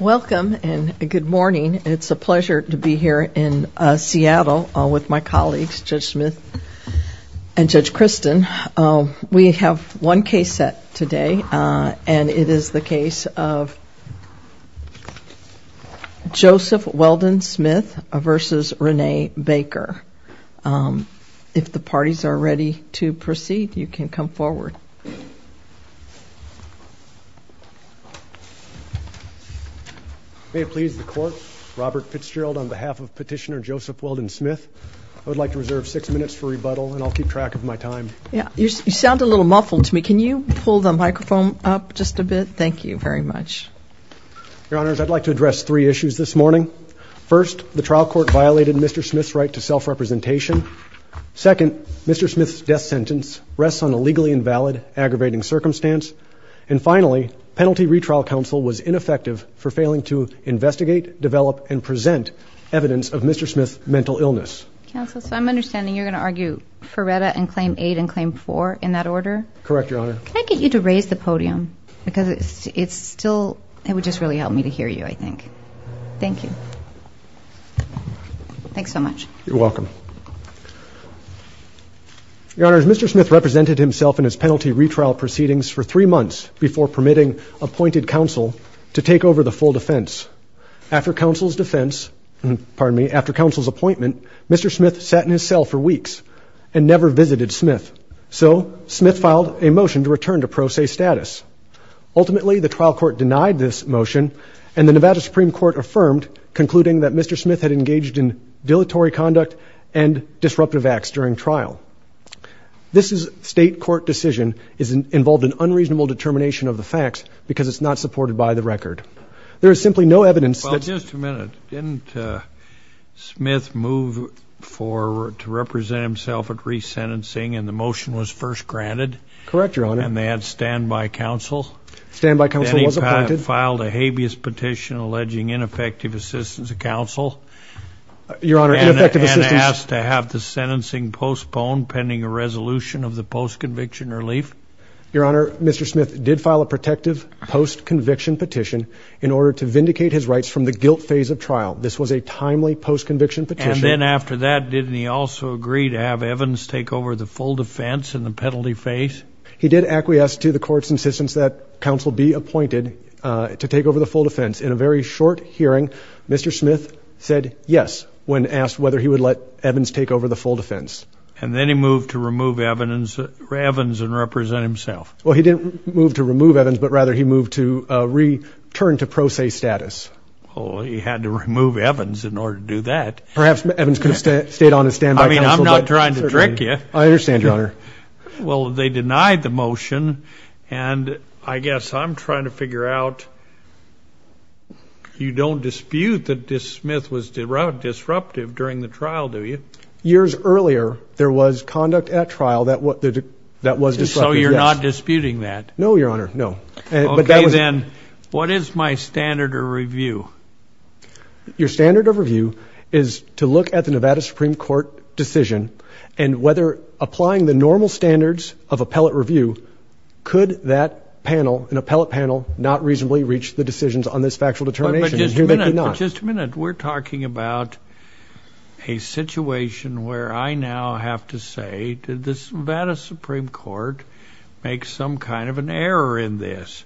Welcome and good morning. It's a pleasure to be here in Seattle with my colleagues, Judge Smith and Judge Kristen. We have one case set today, and it is the case of Joseph Weldon Smith v. Renee Baker. If the parties are ready to proceed, you can come forward. Robert Fitzgerald You sound a little muffled to me. Can you pull the microphone up just a bit? Thank you very much. Your Honor, I'd like to address three issues this morning. First, the trial court violated Mr. Smith's right to self-representation. Second, Mr. Smith's death sentence rests on a legally invalid aggravating circumstance. And finally, penalty retrial counsel was ineffective for failing to investigate, develop, and present evidence of Mr. Smith's mental illness. Your Honor, Mr. Smith represented himself in his penalty retrial proceedings for three months before permitting appointed counsel to take over the full defense. After counsel's appointment, Mr. Smith sat in his cell for weeks and never visited Smith. So, Smith filed a motion to return to pro se status. Ultimately, the trial court denied this motion, and the Nevada Supreme Court affirmed, concluding that Mr. Smith had engaged in dilatory conduct and disruptive acts during trial. This state court decision involved an unreasonable determination of the facts because it's not supported by the record. There is simply no evidence that... Your Honor, Mr. Smith did file a protective post-conviction petition in order to vindicate his rights from the guilt phase of trial. This was a timely post-conviction petition. And then after that, didn't he also agree to have Evans take over the full defense in the penalty phase? He did acquiesce to the court's insistence that counsel be appointed to take over the full defense. In a very short hearing, Mr. Smith said yes when asked whether he would let Evans take over the full defense. And then he moved to remove Evans and represent himself. Well, he didn't move to remove Evans, but rather he moved to return to pro se status. Well, he had to remove Evans in order to do that. Perhaps Evans could have stayed on as stand-by counsel. I mean, I'm not trying to trick you. I understand, Your Honor. Well, they denied the motion, and I guess I'm trying to figure out... You don't dispute that Mr. Smith was disruptive during the trial, do you? Years earlier, there was conduct at trial that was disruptive. So you're not disputing that? No, Your Honor, no. Okay then, what is my standard of review? Your standard of review is to look at the Nevada Supreme Court decision and whether applying the normal standards of appellate review, could that panel, an appellate panel, not reasonably reach the decisions on this factual determination. But just a minute. We're talking about a situation where I now have to say that the Nevada Supreme Court makes some kind of an error in this.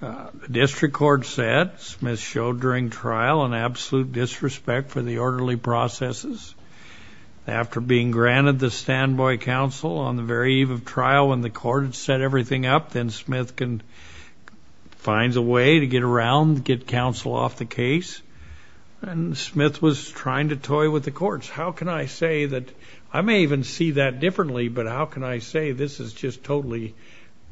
The district court said Smith showed during trial an absolute disrespect for the orderly processes. After being granted the stand-by counsel on the very eve of trial when the court had set everything up, then Smith can find a way to get around, get counsel off the case. And Smith was trying to toy with the courts. How can I say that... I may even see that differently, but how can I say this is just totally...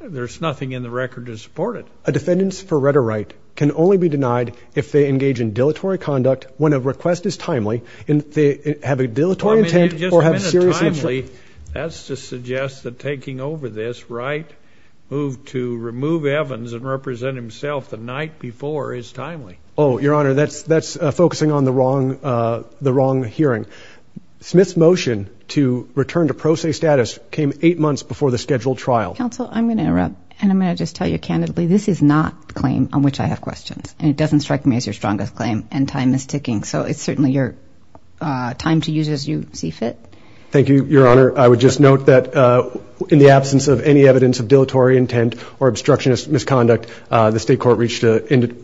There's nothing in the record to support it. A defendants for rhetoric can only be denied if they engage in dilatory conduct when a request is timely, and if they have a dilatory intent... If it's not timely, that's to suggest that taking over this right to remove Evans and represent himself the night before is timely. Oh, Your Honor, that's focusing on the wrong hearing. Smith's motion to return to pro se status came eight months before the scheduled trial. Counsel, I'm going to interrupt, and I'm going to just tell you candidly, this is not the claim on which I have questions. It doesn't strike me as your strongest claim, and time is ticking, so it's certainly your time to use as you see fit. Thank you, Your Honor. I would just note that in the absence of any evidence of dilatory intent or obstructionist misconduct, the state court reached an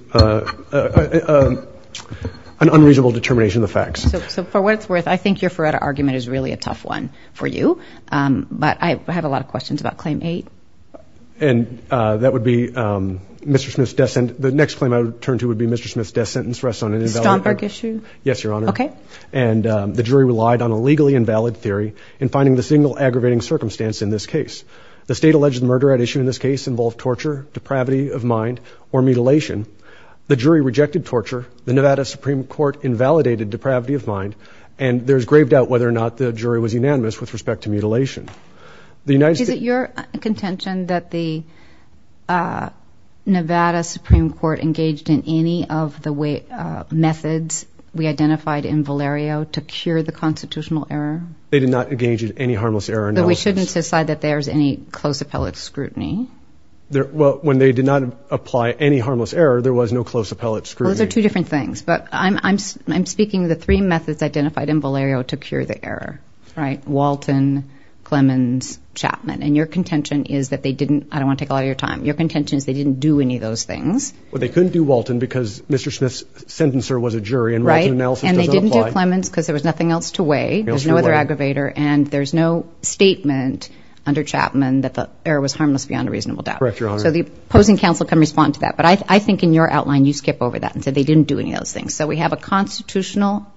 unreasonable determination of the facts. I think your Faretta argument is really a tough one for you, but I have a lot of questions about claim eight. And that would be Mr. Smith's death sentence. The next claim I would turn to would be Mr. Smith's death sentence rests on an invalid... Stomberg issue? Yes, Your Honor. Okay. And the jury relied on a legally invalid theory in finding the single aggravating circumstance in this case. The state alleged murder at issue in this case involved torture, depravity of mind, or mutilation. The jury rejected torture. The Nevada Supreme Court invalidated depravity of mind, and there's grave doubt whether or not the jury was unanimous with respect to mutilation. Is it your contention that the Nevada Supreme Court engaged in any of the methods we identified in Valerio to cure the constitutional error? They did not engage in any harmless error. But we shouldn't decide that there's any close appellate scrutiny. Well, when they did not apply any harmless error, there was no close appellate scrutiny. Those are two different things. But I'm speaking of the three methods identified in Valerio to cure the error. Walton, Clemens, Chapman. And your contention is that they didn't... I don't want to take all your time. Your contention is they didn't do any of those things. Well, they couldn't do Walton because Mr. Smith's sentencer was a jury. Right. And they didn't do Clemens because there was nothing else to weigh. There was no other aggravator. And there's no statement under Chapman that the error was harmless beyond a reasonable doubt. Correct, Your Honor. So the opposing counsel can respond to that. But I think in your outline you skip over that and said they didn't do any of those things. So we have a constitutional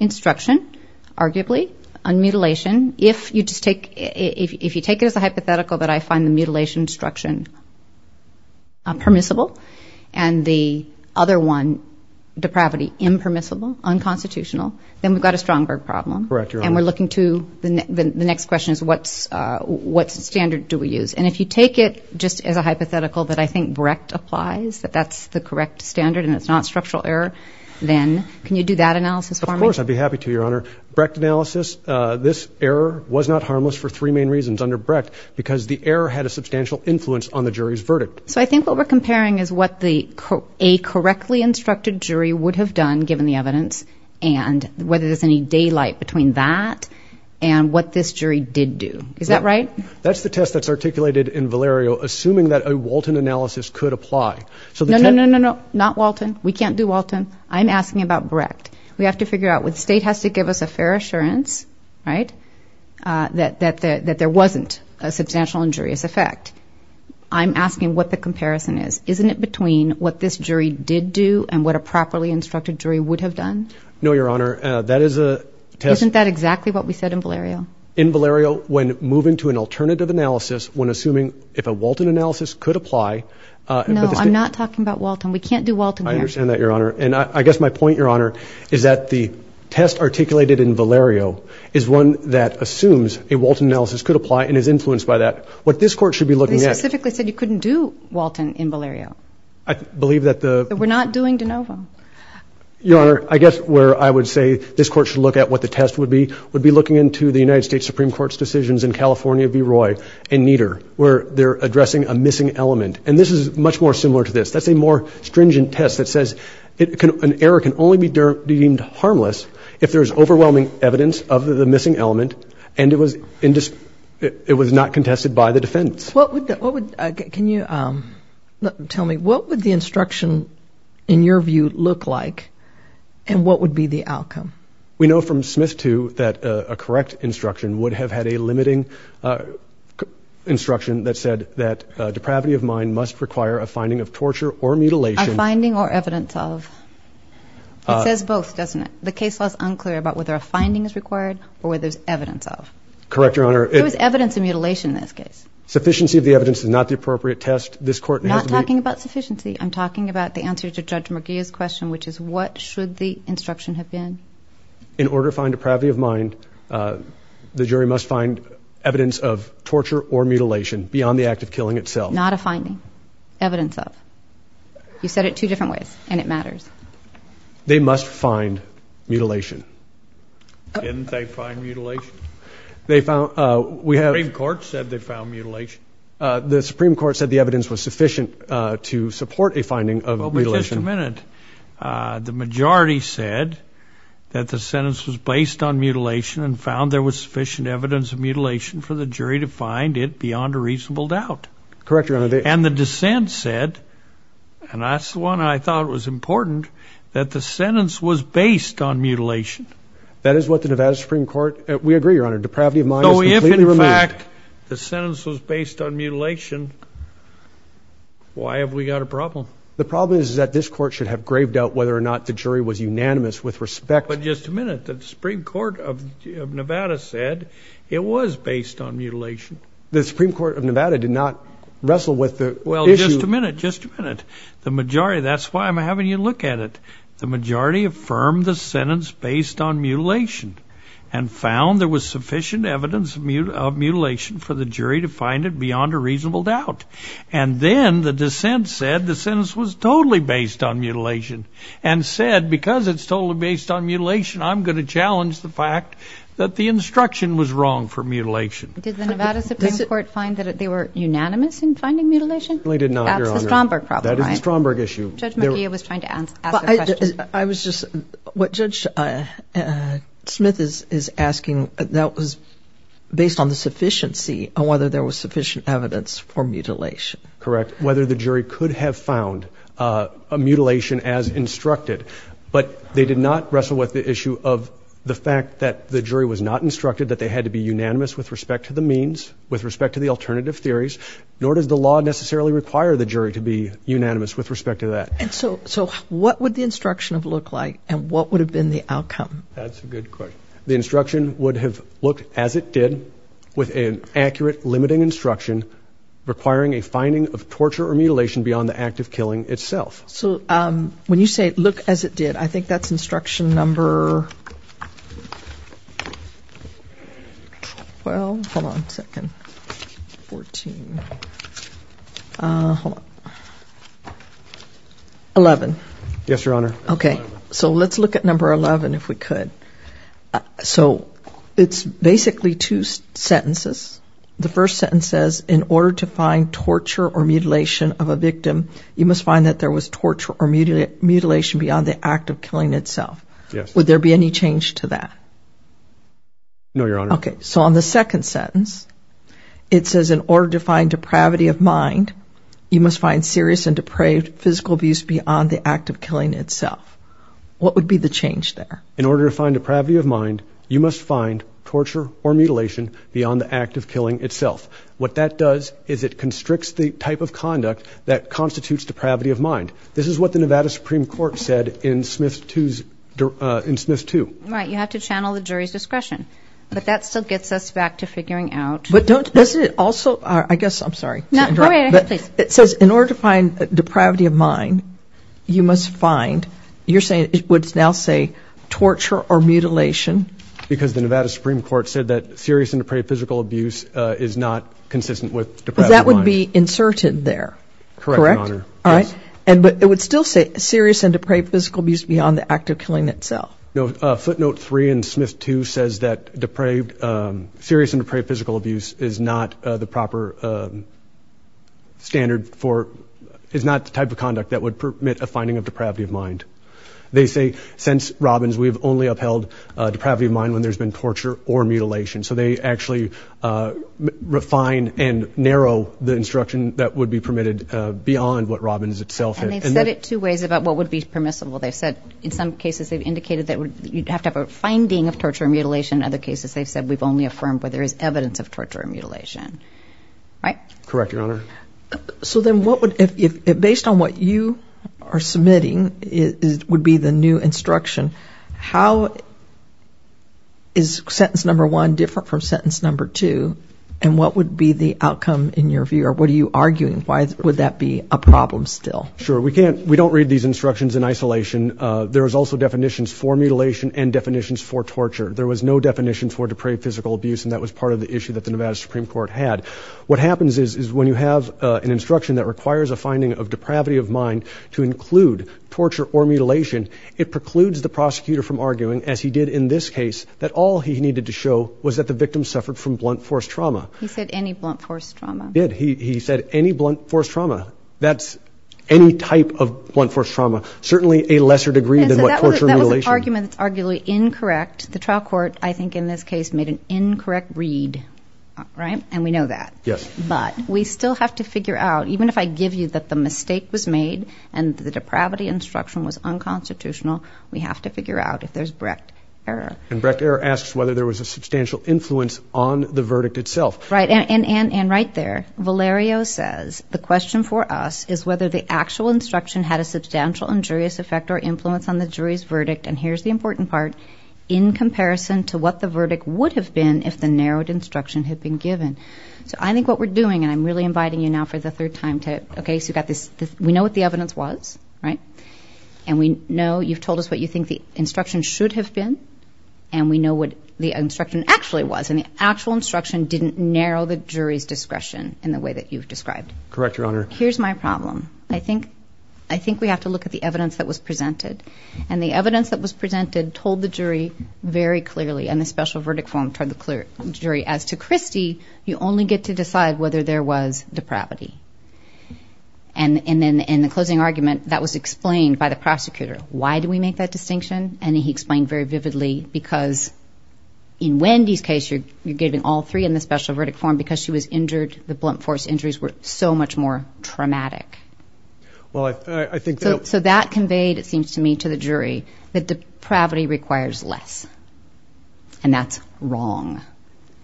instruction, arguably, on mutilation. If you take it as a hypothetical that I find the mutilation instruction permissible and the other one, depravity, impermissible, unconstitutional, then we've got a Strongberg problem. Correct, Your Honor. And we're looking to... The next question is what standard do we use? And if you take it just as a hypothetical that I think Brecht applies, that that's the correct standard and it's not structural error, then can you do that analysis for me? Of course. I'd be happy to, Your Honor. Brecht analysis, this error was not harmless for three main reasons under Brecht because the error had a substantial influence on the jury's verdict. So I think what we're comparing is what a correctly instructed jury would have done given the evidence and whether there's any daylight between that and what this jury did do. Is that right? That's the test that's articulated in Valerio, assuming that a Walton analysis could apply. No, no, no, no, no, not Walton. We can't do Walton. I'm asking about Brecht. We have to figure out... The state has to give us a fair assurance, right, that there wasn't a substantial injurious effect. I'm asking what the comparison is. Isn't it between what this jury did do and what a properly instructed jury would have done? No, Your Honor. That is a test... Isn't that exactly what we said in Valerio? In Valerio, when moving to an alternative analysis, when assuming if a Walton analysis could apply... No, I'm not talking about Walton. We can't do Walton here. I understand that, Your Honor. And I guess my point, Your Honor, is that the test articulated in Valerio is one that assumes a Walton analysis could apply and is influenced by that. What this court should be looking at... You specifically said you couldn't do Walton in Valerio. I believe that the... That we're not doing de novo. Your Honor, I guess where I would say this court should look at what the test would be, would be looking into the United States Supreme Court's decisions in California v. Roy and Nieder, where they're addressing a missing element. And this is much more similar to this. That's a more stringent test that says an error can only be deemed harmless if there's overwhelming evidence of the missing element and it was not contested by the defense. Can you tell me, what would the instruction, in your view, look like? And what would be the outcome? We know from Smith, too, that a correct instruction would have had a limiting instruction that said that depravity of mind must require a finding of torture or mutilation... A finding or evidence of. It says both, doesn't it? The case was unclear about whether a finding is required or whether there's evidence of. Correct, Your Honor. There was evidence of mutilation in this case. Sufficiency of the evidence is not the appropriate test. This court... I'm not talking about sufficiency. I'm talking about the answer to Judge McGee's question, which is what should the instruction have been? In order to find depravity of mind, the jury must find evidence of torture or mutilation beyond the act of killing itself. Not a finding. Evidence of. You said it two different ways, and it matters. They must find mutilation. Didn't they find mutilation? They found... we have... The Supreme Court said they found mutilation. The Supreme Court said the evidence was sufficient to support a finding of mutilation. Just a minute. The majority said that the sentence was based on mutilation and found there was sufficient evidence of mutilation for the jury to find it beyond a reasonable doubt. Correct, Your Honor. And the dissent said, and that's the one I thought was important, that the sentence was based on mutilation. That is what the Nevada Supreme Court... we agree, Your Honor. Depravity of mind is completely removed. In fact, the sentence was based on mutilation. Why have we got a problem? The problem is that this court should have graved out whether or not the jury was unanimous with respect... But just a minute. The Supreme Court of Nevada said it was based on mutilation. The Supreme Court of Nevada did not wrestle with the issue... Well, just a minute, just a minute. The majority... that's why I'm having you look at it. The majority affirmed the sentence based on mutilation and found there was sufficient evidence of mutilation for the jury to find it beyond a reasonable doubt. And then the dissent said the sentence was totally based on mutilation and said, because it's totally based on mutilation, I'm going to challenge the fact that the instruction was wrong for mutilation. Did the Nevada Supreme Court find that they were unanimous in finding mutilation? They did not, Your Honor. That's the Stromberg problem, right? That is the Stromberg issue. Judge McGee was trying to ask a question. I was just... what Judge Smith is asking, that was based on the sufficiency of whether there was sufficient evidence for mutilation. Correct. Whether the jury could have found a mutilation as instructed. But they did not wrestle with the issue of the fact that the jury was not instructed that they had to be unanimous with respect to the means, with respect to the alternative theories, nor does the law necessarily require the jury to be unanimous with respect to that. So what would the instruction have looked like and what would have been the outcome? That's a good question. The instruction would have looked as it did with an accurate, limiting instruction requiring a finding of torture or mutilation beyond the act of killing itself. So when you say look as it did, I think that's instruction number... Well, hold on a second. Eleven. Yes, Your Honor. Okay. So let's look at number eleven if we could. So it's basically two sentences. The first sentence says, in order to find torture or mutilation of a victim, you must find that there was torture or mutilation beyond the act of killing itself. Yes. Would there be any change to that? No, Your Honor. Okay. So on the second sentence, it says in order to find depravity of mind, you must find serious and depraved physical abuse beyond the act of killing itself. What would be the change there? In order to find depravity of mind, you must find torture or mutilation beyond the act of killing itself. What that does is it constricts the type of conduct that constitutes depravity of mind. This is what the Nevada Supreme Court said in Smith 2. Right. You have to channel the jury's discussion. But that still gets us back to figuring out... But doesn't it also... I guess I'm sorry. No, go ahead. It says in order to find depravity of mind, you must find... You're saying it would now say torture or mutilation? Because the Nevada Supreme Court said that serious and depraved physical abuse is not consistent with depravity of mind. But that would be inserted there, correct? Correct, Your Honor. But it would still say serious and depraved physical abuse beyond the act of killing itself. Footnote 3 in Smith 2 says that serious and depraved physical abuse is not the proper standard for... is not the type of conduct that would permit a finding of depravity of mind. They say since Robbins, we've only upheld depravity of mind when there's been torture or mutilation. So they actually refined and narrow the instruction that would be permitted beyond what Robbins itself... And they said it two ways about what would be permissible. They said in some cases they've indicated that you'd have to have a finding of torture or mutilation. In other cases, they said we've only affirmed where there is evidence of torture or mutilation. Right? Correct, Your Honor. So then what would... Based on what you are submitting would be the new instruction, how is sentence number one different from sentence number two? And what would be the outcome in your view? Or what are you arguing? Why would that be a problem still? Sure. We don't read these instructions in isolation. There is also definitions for mutilation and definitions for torture. There was no definition for depraved physical abuse. And that was part of the issue that the Nevada Supreme Court had. What happens is when you have an instruction that requires a finding of depravity of mind to include torture or mutilation, it precludes the prosecutor from arguing, as he did in this case, that all he needed to show was that the victim suffered from blunt force trauma. He said any blunt force trauma. He did. He said any blunt force trauma. That's any type of blunt force trauma. Certainly a lesser degree than what torture or mutilation. That was an argument arguably incorrect. The trial court, I think in this case, made an incorrect read. Right? And we know that. Yes. But we still have to figure out, even if I give you that the mistake was made and the depravity instruction was unconstitutional, we have to figure out if there's direct error. And direct error asks whether there was a substantial influence on the verdict itself. Right. And right there, Valerio says, the question for us is whether the actual instruction had a substantial injurious effect or influence on the jury's verdict. And here's the important part. In comparison to what the verdict would have been if the narrowed instruction had been given. So I think what we're doing, and I'm really inviting you now for the third time to, okay, we know what the evidence was, right? And we know you've told us what you think the instruction should have been. And we know what the instruction actually was. And the actual instruction didn't narrow the jury's discretion in the way that you've described. Correct, Your Honor. Here's my problem. I think we have to look at the evidence that was presented. And the evidence that was presented told the jury very clearly, and the special verdict form told the jury, as to Christie, you only get to decide whether there was depravity. And then in the closing argument, that was explained by the prosecutor. Why do we make that distinction? And he explained very vividly because in Wendy's case, you gave it all three in the special verdict form because she was injured. The blunt force injuries were so much more traumatic. Well, I think that. So that conveyed, it seems to me, to the jury that depravity requires less. And that's wrong.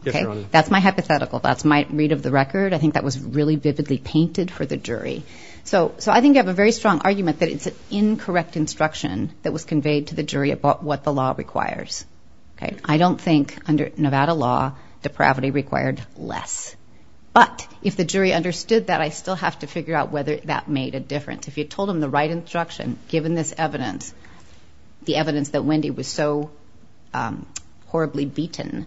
That's my hypothetical. That's my read of the record. I think that was really visibly painted for the jury. So I think you have a very strong argument that it's an incorrect instruction that was conveyed to the jury about what the law requires. I don't think under Nevada law, depravity required less. But if the jury understood that, I still have to figure out whether that made a difference. If you told them the right instruction, given this evidence, the evidence that Wendy was so horribly beaten,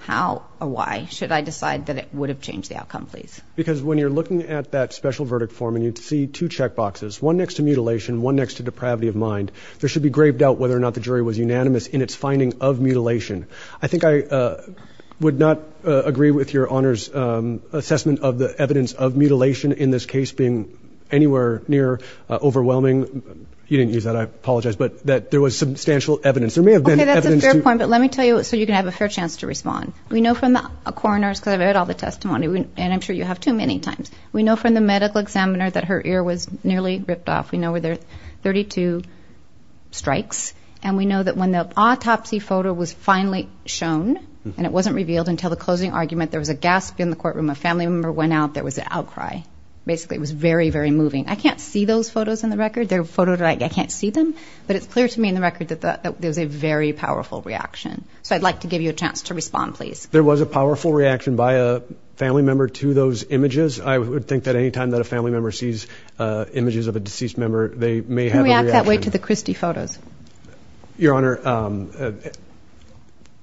how or why should I decide that it would have changed the outcome, please? Because when you're looking at that special verdict form and you see two checkboxes, one next to mutilation, one next to depravity of mind, there should be grave doubt whether or not the jury was unanimous in its finding of mutilation. I think I would not agree with your honors assessment of the evidence of mutilation in this case being anywhere near overwhelming. You didn't use that. I apologize. But there was substantial evidence. There may have been evidence. That's a fair point. But let me tell you so you can have a fair chance to respond. We know from the coroner's, because I've read all the testimony, and I'm sure you have too many times. We know from the medical examiner that her ear was nearly ripped off. We know there were 32 strikes. And we know that when the autopsy photo was finally shown, and it wasn't revealed until the closing argument, there was a gasp in the courtroom. A family member went out. There was an outcry. Basically, it was very, very moving. I can't see those photos in the record. They're photos that I can't see them. But it's clear to me in the record that there's a very powerful reaction. So I'd like to give you a chance to respond, please. There was a powerful reaction by a family member to those images. I would think that any time that a family member sees images of a deceased member, they may have a reaction. Your Honor,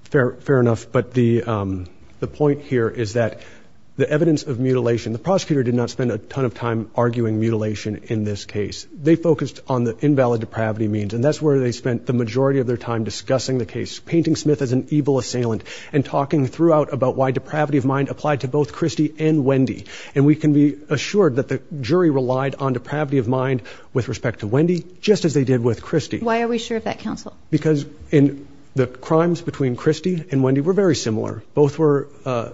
fair enough. But the point here is that the evidence of mutilation, the prosecutor did not spend a ton of time arguing mutilation in this case. They focused on the invalid depravity means. And that's where they spent the majority of their time discussing the case, painting Smith as an evil assailant and talking throughout about why depravity of mind applied to both Christie and Wendy. And we can be assured that the jury relied on depravity of mind with respect to Wendy, just as they did with Christie. Why are we sure of that, counsel? Because the crimes between Christie and Wendy were very similar. Both were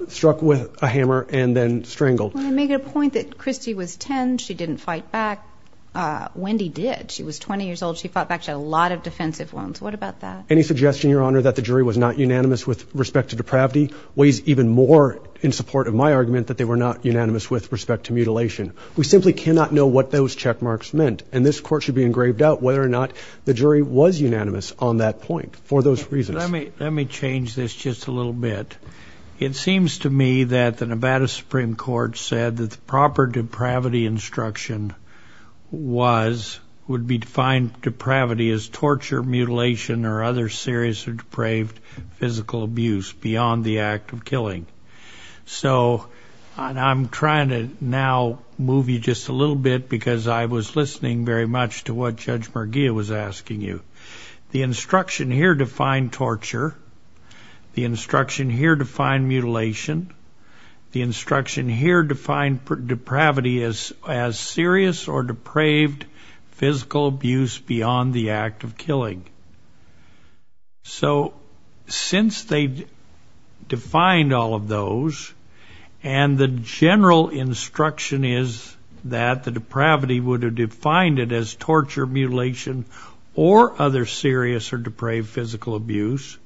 struck with a hammer and then strangled. I want to make a point that Christie was 10. She didn't fight back. Wendy did. She was 20 years old. She fought back. She had a lot of defensive wounds. What about that? Any suggestion, Your Honor, that the jury was not unanimous with respect to depravity weighs even more in support of my argument that they were not unanimous with respect to mutilation. We simply cannot know what those checkmarks meant. And this court should be engraved out whether or not the jury was unanimous on that point for those reasons. Let me change this just a little bit. It seems to me that the Nevada Supreme Court said that the proper depravity instruction was would be defined depravity as torture, mutilation, or other serious or depraved physical abuse beyond the act of killing. So I'm trying to now move you just a little bit because I was listening very much to what Judge Merguia was asking you. The instruction here defined torture. The instruction here defined mutilation. The instruction here defined depravity as serious or depraved physical abuse beyond the act of killing. So since they defined all of those and the general instruction is that the depravity would have defined it as torture, mutilation, or other serious or depraved physical abuse,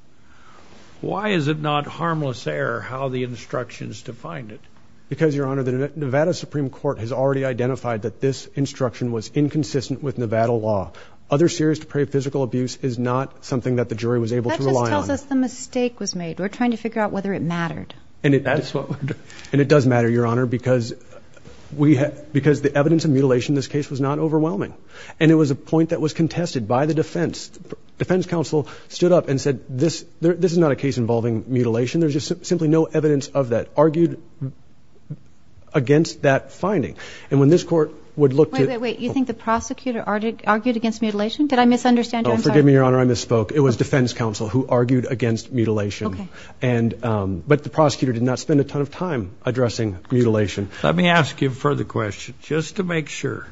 why is it not harmless error how the instructions defined it? Because, Your Honor, the Nevada Supreme Court has already identified that this instruction was inconsistent with Nevada law. Other serious or depraved physical abuse is not something that the jury was able to rely on. That's because the mistake was made. We're trying to figure out whether it mattered. And it does matter, Your Honor, because the evidence of mutilation in this case was not overwhelming. And it was a point that was contested by the defense. Defense counsel stood up and said this is not a case involving mutilation. There's just simply no evidence of that, argued against that finding. Wait, wait, wait. You think the prosecutor argued against mutilation? Did I misunderstand? Forgive me, Your Honor, I misspoke. It was defense counsel who argued against mutilation. But the prosecutor did not spend a ton of time addressing mutilation. Let me ask you a further question, just to make sure.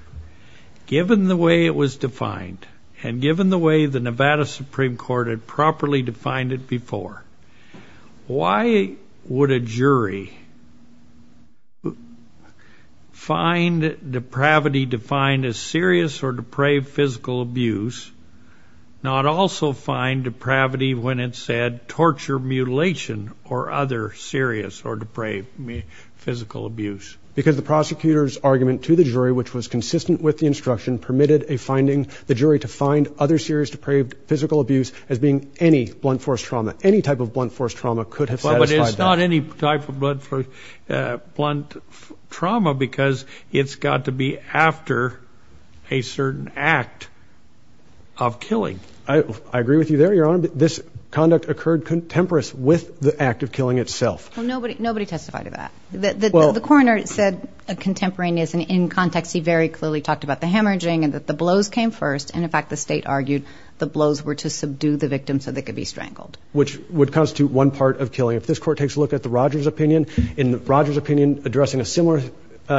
Given the way it was defined, and given the way the Nevada Supreme Court had properly defined it before, why would a jury find depravity defined as serious or depraved physical abuse, not also find depravity when it said torture, mutilation, or other serious or depraved physical abuse? Because the prosecutor's argument to the jury, which was consistent with the instruction, permitted the jury to find other serious or depraved physical abuse as being any blunt force trauma. Any type of blunt force trauma could have satisfied that. But it's not any type of blunt trauma because it's got to be after a certain act of killing. I agree with you there, Your Honor. This conduct occurred contemporary with the act of killing itself. Well, nobody testified to that. The coroner said contemporary is in context. He very clearly talked about the hemorrhaging and that the blows came first. And, in fact, the state argued the blows were to subdue the victim so they could be strangled. Which would constitute one part of killing. If this court takes a look at the Rogers opinion, in Rogers' opinion, addressing a similar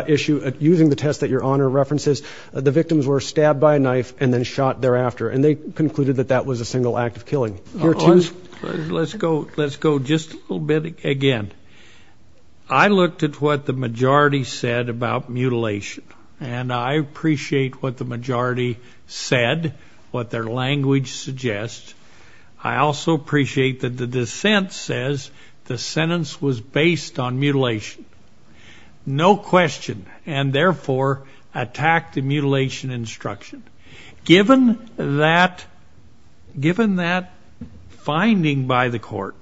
issue, using the test that Your Honor references, the victims were stabbed by a knife and then shot thereafter. And they concluded that that was a single act of killing. Let's go just a little bit again. I looked at what the majority said about mutilation. And I appreciate what the majority said, what their language suggests. I also appreciate that the dissent says the sentence was based on mutilation. No question. And, therefore, attack the mutilation instruction. Given that finding by the court,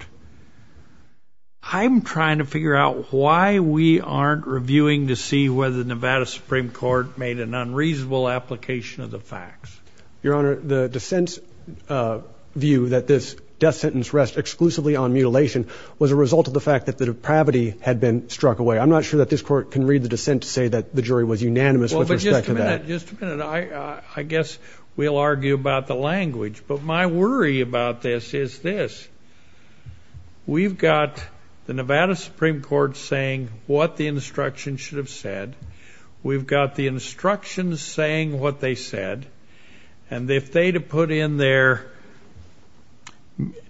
I'm trying to figure out why we aren't reviewing to see whether the Nevada Supreme Court made an unreasonable application of the facts. Your Honor, the dissent's view that this death sentence rests exclusively on mutilation was a result of the fact that the depravity had been struck away. I'm not sure that this court can read the dissent to say that the jury was unanimous with respect to that. Just a minute. I guess we'll argue about the language. But my worry about this is this. We've got the Nevada Supreme Court saying what the instruction should have said. We've got the instructions saying what they said. And if they'd have put in there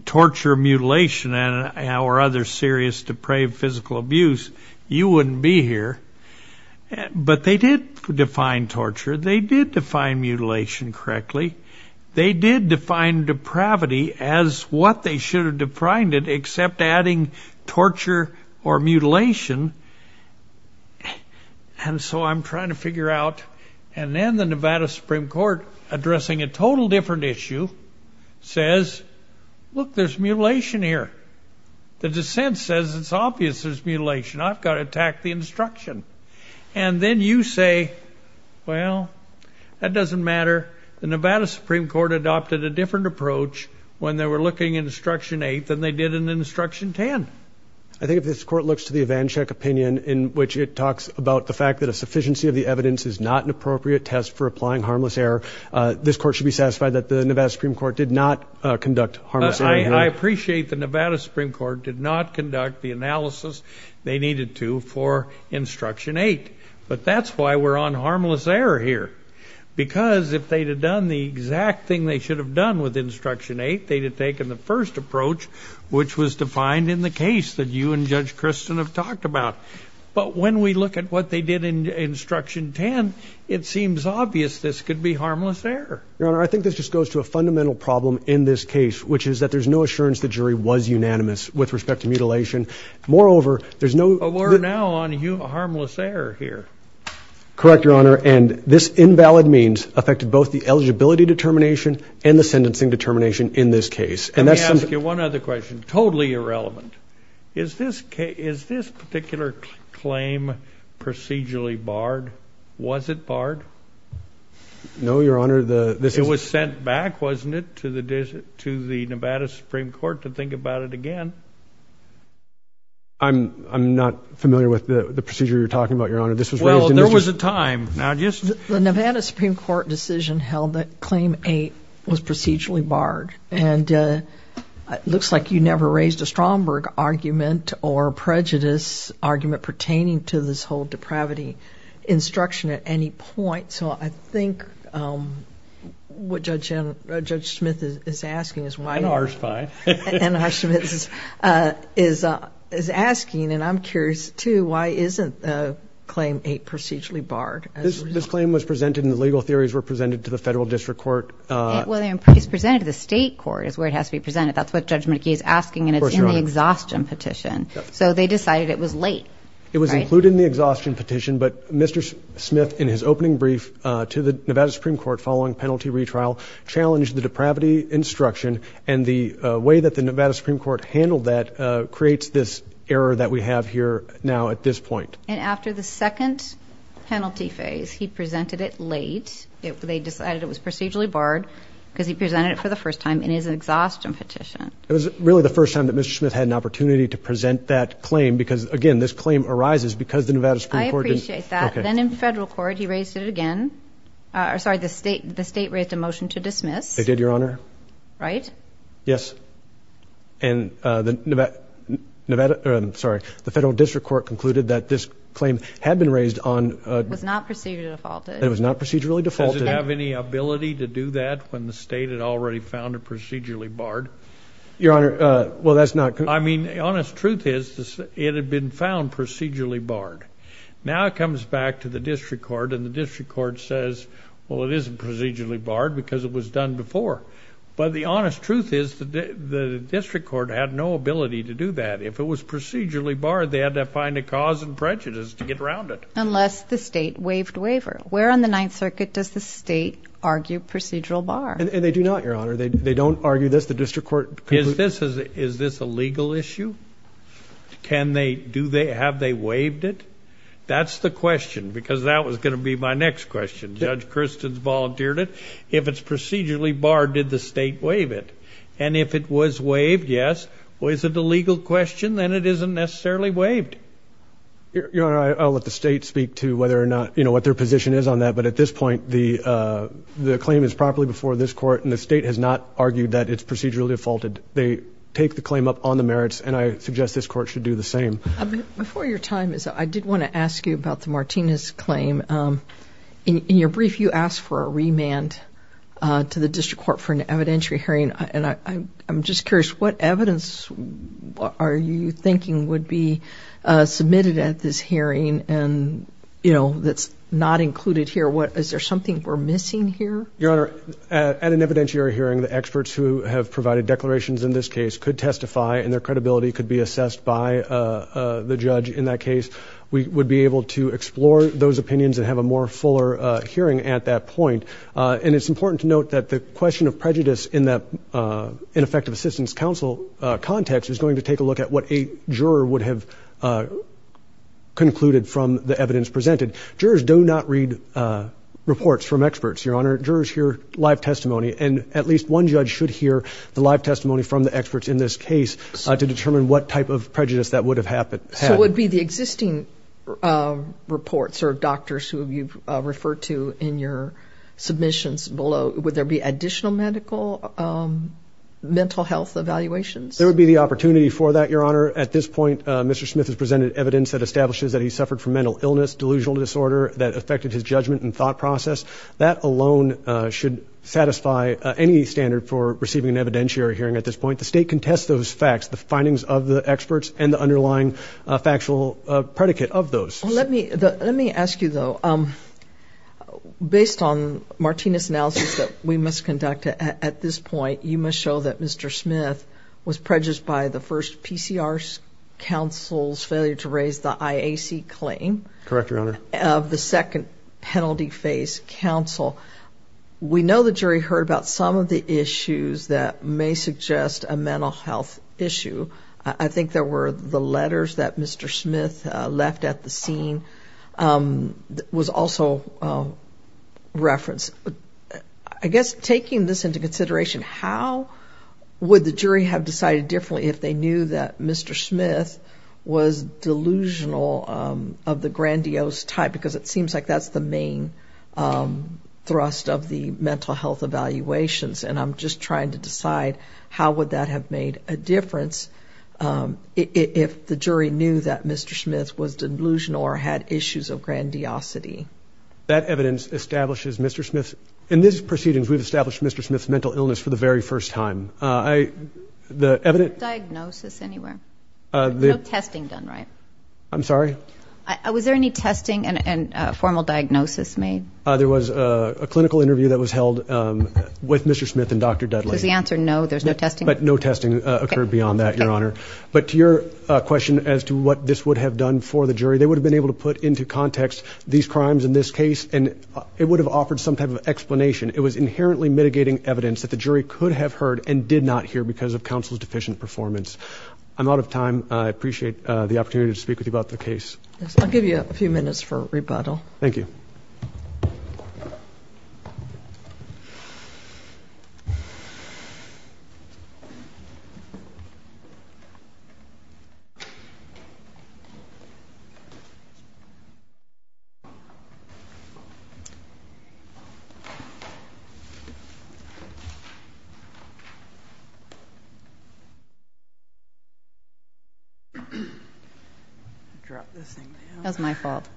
torture, mutilation, or other serious depraved physical abuse, you wouldn't be here. But they did define torture. They did define mutilation correctly. They did define depravity as what they should have defined it, except adding torture or mutilation. And so I'm trying to figure out. And then the Nevada Supreme Court, addressing a total different issue, says, look, there's mutilation here. The dissent says it's obvious there's mutilation. I've got to attack the instruction. And then you say, well, that doesn't matter. The Nevada Supreme Court adopted a different approach when they were looking at Instruction 8 than they did in Instruction 10. I think if this court looks to the Evanchik opinion, in which it talks about the fact that a sufficiency of the evidence is not an appropriate test for applying harmless error, this court should be satisfied that the Nevada Supreme Court did not conduct harmless error. I appreciate the Nevada Supreme Court did not conduct the analysis they needed to for Instruction 8. But that's why we're on harmless error here. Because if they'd have done the exact thing they should have done with Instruction 8, they'd have taken the first approach, which was defined in the case that you and Judge Kristen have talked about. But when we look at what they did in Instruction 10, it seems obvious this could be harmless error. Your Honor, I think this just goes to a fundamental problem in this case, which is that there's no assurance the jury was unanimous with respect to mutilation. Moreover, there's no... But we're now on harmless error here. Correct, Your Honor, and this invalid means affected both the eligibility determination and the sentencing determination in this case. Let me ask you one other question, totally irrelevant. Is this particular claim procedurally barred? Was it barred? No, Your Honor. It was sent back, wasn't it, to the Nevada Supreme Court to think about it again? I'm not familiar with the procedure you're talking about, Your Honor. Well, there was a time. The Nevada Supreme Court decision held that Claim 8 was procedurally barred. And it looks like you never raised a Stromberg argument or prejudice argument pertaining to this whole depravity. I don't have any instruction at any point, so I think what Judge Smith is asking is why... And ours, fine. And Judge Smith is asking, and I'm curious, too, why isn't Claim 8 procedurally barred? This claim was presented and the legal theories were presented to the federal district court. Well, it's presented to the state court is where it has to be presented. That's what Judge McKee is asking, and it's in the exhaustion petition. So they decided it was late. It was included in the exhaustion petition, but Mr. Smith, in his opening brief to the Nevada Supreme Court following penalty retrial, challenged the depravity instruction and the way that the Nevada Supreme Court handled that creates this error that we have here now at this point. And after the second penalty phase, he presented it late. They decided it was procedurally barred because he presented it for the first time in his exhaustion petition. It was really the first time that Mr. Smith had an opportunity to present that claim because, again, this claim arises because the Nevada Supreme Court... I appreciate that. Then in the federal court, he raised it again. Sorry, the state raised a motion to dismiss. They did, Your Honor. Right? Yes. And the Nevada, sorry, the federal district court concluded that this claim had been raised on... It was not procedurally defaulted. It was not procedurally defaulted. Does it have any ability to do that when the state had already found it procedurally barred? Your Honor, well, that's not... I mean, the honest truth is it had been found procedurally barred. Now it comes back to the district court, and the district court says, well, it isn't procedurally barred because it was done before. But the honest truth is the district court had no ability to do that. If it was procedurally barred, they had to find a cause and prejudice to get around it. Unless the state waived the waiver. Where on the Ninth Circuit does the state argue procedural bar? And they do not, Your Honor. They don't argue this. The district court... Is this a legal issue? Can they... Do they... Have they waived it? That's the question, because that was going to be my next question. Judge Christens volunteered it. If it's procedurally barred, did the state waive it? And if it was waived, yes. Was it a legal question? Then it isn't necessarily waived. Your Honor, I'll let the state speak to whether or not, you know, what their position is on that. But at this point, the claim is properly before this court, and the state has not argued that it's procedurally defaulted. They take the claim up on the merits, and I suggest this court should do the same. Before your time is up, I did want to ask you about the Martinez claim. In your brief, you asked for a remand to the district court for an evidentiary hearing. I'm just curious, what evidence are you thinking would be submitted at this hearing that's not included here? Is there something we're missing here? Your Honor, at an evidentiary hearing, the experts who have provided declarations in this case could testify, and their credibility could be assessed by the judge in that case. We would be able to explore those opinions and have a more fuller hearing at that point. And it's important to note that the question of prejudice in that ineffective assistance counsel context is going to take a look at what a juror would have concluded from the evidence presented. Jurors do not read reports from experts, Your Honor. Jurors hear live testimony, and at least one judge should hear the live testimony from the experts in this case to determine what type of prejudice that would have happened. So it would be the existing reports or doctors who you've referred to in your submissions below, would there be additional medical, mental health evaluations? There would be the opportunity for that, Your Honor. At this point, Mr. Smith has presented evidence that establishes that he suffered from mental illness, delusional disorder that affected his judgment and thought process. That alone should satisfy any standard for receiving an evidentiary hearing at this point. The state can test those facts, the findings of the experts and the underlying factual predicate of those. Let me ask you, though. Based on Martina's analysis that we must conduct at this point, you must show that Mr. Smith was prejudiced by the first PCR counsel's failure to raise the IAC claim. Correct, Your Honor. Of the second penalty-faced counsel. We know the jury heard about some of the issues that may suggest a mental health issue. I think there were the letters that Mr. Smith left at the scene was also referenced. I guess taking this into consideration, how would the jury have decided differently if they knew that Mr. Smith was delusional of the grandiose type? Because it seems like that's the main thrust of the mental health evaluations, and I'm just trying to decide how would that have made a difference if the jury knew that Mr. Smith was delusional or had issues of grandiosity. That evidence establishes Mr. Smith's – in this proceeding, we've established Mr. Smith's mental illness for the very first time. The evidence – No diagnosis anywhere. No testing done, right? I'm sorry? Was there any testing and formal diagnosis made? There was a clinical interview that was held with Mr. Smith and Dr. Dudley. Was the answer no, there's no testing? But no testing occurred beyond that, Your Honor. But to your question as to what this would have done for the jury, they would have been able to put into context these crimes in this case, and it would have offered some kind of explanation. It was inherently mitigating evidence that the jury could have heard and did not hear because of counsel's deficient performance. I'm out of time. I appreciate the opportunity to speak with you about the case. I'll give you a few minutes for rebuttal. Thank you. That's my fault.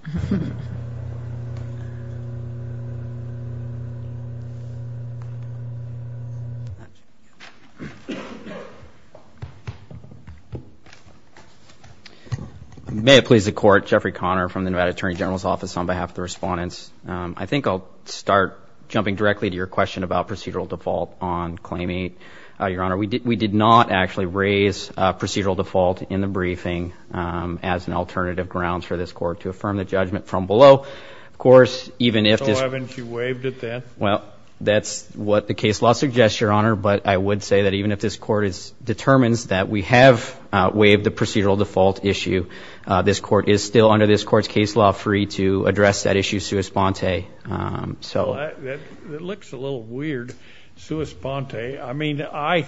May it please the Court, Jeffrey Conner from the Nevada Attorney General's Office on behalf of the respondents. I think I'll start jumping directly to your question about procedural default on Claim 8, Your Honor. We did not actually raise procedural default in the briefing as an alternative ground for this Court to affirm the judgment from below. So why haven't you waived it then? Well, that's what the case law suggests, Your Honor. But I would say that even if this Court determines that we have waived the procedural default issue, this Court is still under this Court's case law free to address that issue sui sponte. That looks a little weird, sui sponte. I mean, I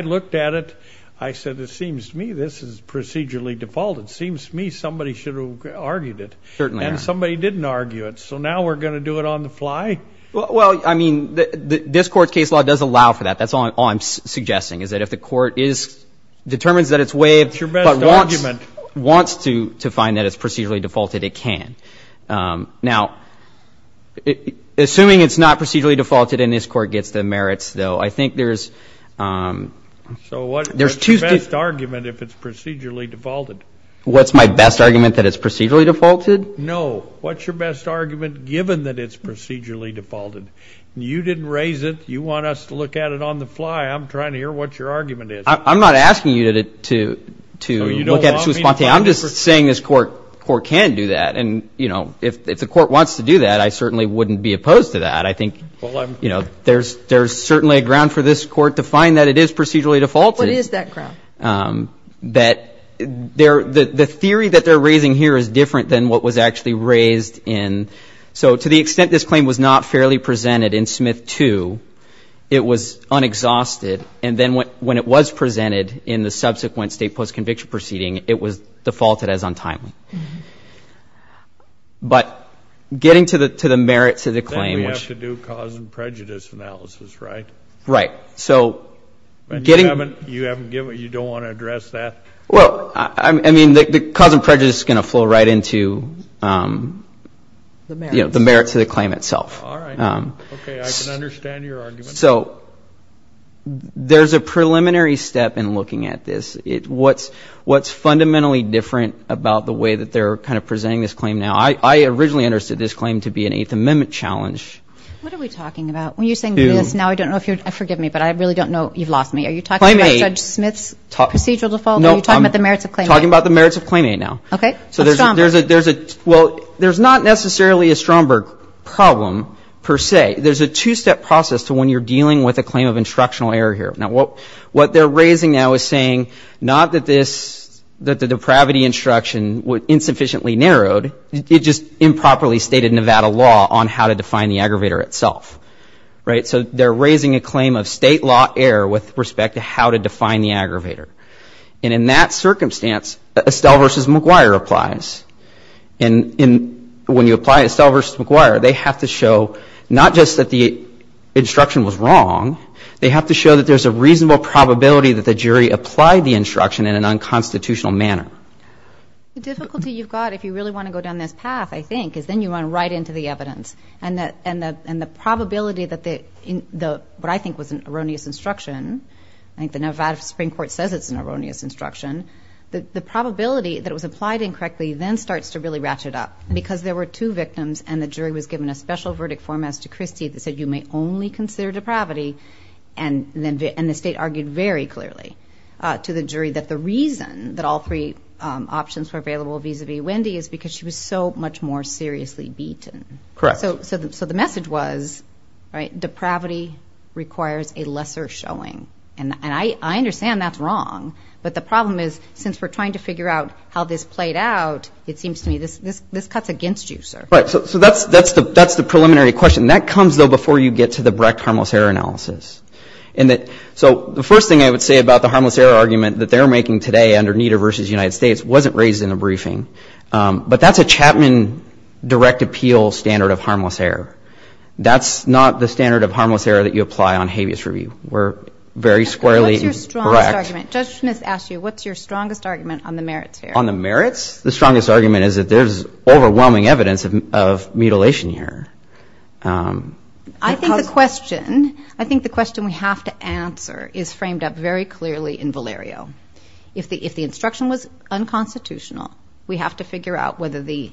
looked at it. I said, it seems to me this is procedurally defaulted. It seems to me somebody should have argued it. And somebody didn't argue it. So now we're going to do it on the fly? Well, I mean, this Court's case law does allow for that. That's all I'm suggesting is that if the Court determines that it's waived but wants to find that it's procedurally defaulted, it can. Now, assuming it's not procedurally defaulted and this Court gets the merits, though, I think there's two— So what's your best argument if it's procedurally defaulted? What's my best argument that it's procedurally defaulted? No, what's your best argument given that it's procedurally defaulted? You didn't raise it. You want us to look at it on the fly. I'm trying to hear what your argument is. I'm not asking you to look at it sui sponte. I'm just saying this Court can do that. And, you know, if the Court wants to do that, I certainly wouldn't be opposed to that. I think, you know, there's certainly a ground for this Court to find that it is procedurally defaulted. What is that ground? That the theory that they're raising here is different than what was actually raised in— so to the extent this claim was not fairly presented in Smith 2, it was unexhausted. And then when it was presented in the subsequent state post-conviction proceeding, it was defaulted as untimely. But getting to the merit to the claim— You have to do cause and prejudice analysis, right? Right. So getting— You don't want to address that? Well, I mean, the cause and prejudice is going to flow right into the merit to the claim itself. All right. Okay, I can understand your argument. So there's a preliminary step in looking at this. What's fundamentally different about the way that they're kind of presenting this claim now? I originally understood this claim to be an Eighth Amendment challenge. What are we talking about? Now I don't know if you're—forgive me, but I really don't know. You've lost me. Are you talking about Judge Smith's procedural default? Are you talking about the merits of claim A? I'm talking about the merits of claim A now. Okay. Well, there's not necessarily a Stromberg problem per se. There's a two-step process to when you're dealing with a claim of instructional error here. Now what they're raising now is saying not that this—that the depravity instruction was insufficiently narrowed. It just improperly stated Nevada law on how to define the aggravator itself. Right? So they're raising a claim of state law error with respect to how to define the aggravator. And in that circumstance, Estelle v. McGuire applies. And when you apply Estelle v. McGuire, they have to show not just that the instruction was wrong. They have to show that there's a reasonable probability that the jury applied the instruction in an unconstitutional manner. The difficulty you've got if you really want to go down this path, I think, is then you run right into the evidence. And the probability that the—what I think was an erroneous instruction— I think the Nevada Supreme Court says it's an erroneous instruction. The probability that it was applied incorrectly then starts to really ratchet up. Because there were two victims and the jury was given a special verdict format to Christie that said you may only consider depravity. And the state argued very clearly to the jury that the reason that all three options were available vis-a-vis Wendy is because she was so much more seriously beaten. Correct. So the message was depravity requires a lesser showing. And I understand that's wrong. But the problem is since we're trying to figure out how this played out, it seems to me this cuts against you, sir. Right. So that's the preliminary question. That comes, though, before you get to the direct harmless error analysis. So the first thing I would say about the harmless error argument that they're making today under NIDA v. United States wasn't raised in a briefing. But that's a Chapman direct appeal standard of harmless error. That's not the standard of harmless error that you apply on habeas review. We're very squarely correct. What's your strongest argument on the merits? The strongest argument is that there's overwhelming evidence of mutilation here. I think the question I think the question we have to answer is framed up very clearly in Valerio. If the instruction was unconstitutional, we have to figure out whether the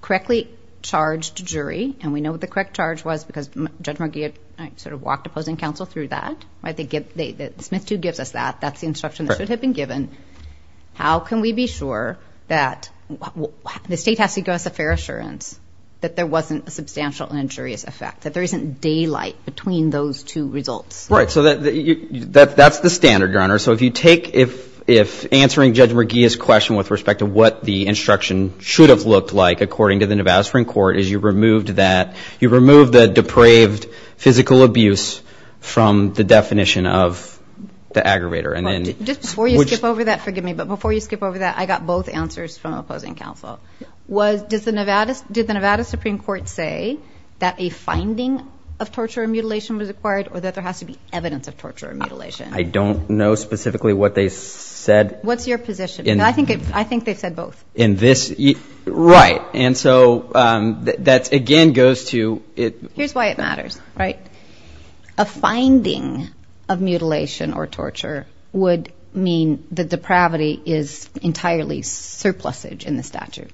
correctly charged jury. And we know what the correct charge was because Judge McGee sort of walked opposing counsel through that. I think it's meant to give us that. That's the instruction that should have been given. How can we be sure that the state has to give us a fair assurance that there wasn't a substantial injurious effect, that there isn't daylight between those two results? If answering Judge McGee's question with respect to what the instruction should have looked like, according to the Nevada Supreme Court, is you removed the depraved physical abuse from the definition of the aggravator. Before you skip over that, forgive me, but before you skip over that, I got both answers from opposing counsel. Did the Nevada Supreme Court say that a finding of torture and mutilation was required or that there has to be evidence of torture and mutilation? I don't know specifically what they said. What's your position? I think they said both. Right. And so that again goes to... Here's why it matters, right? A finding of mutilation or torture would mean that the depravity is entirely surplusage in the statute.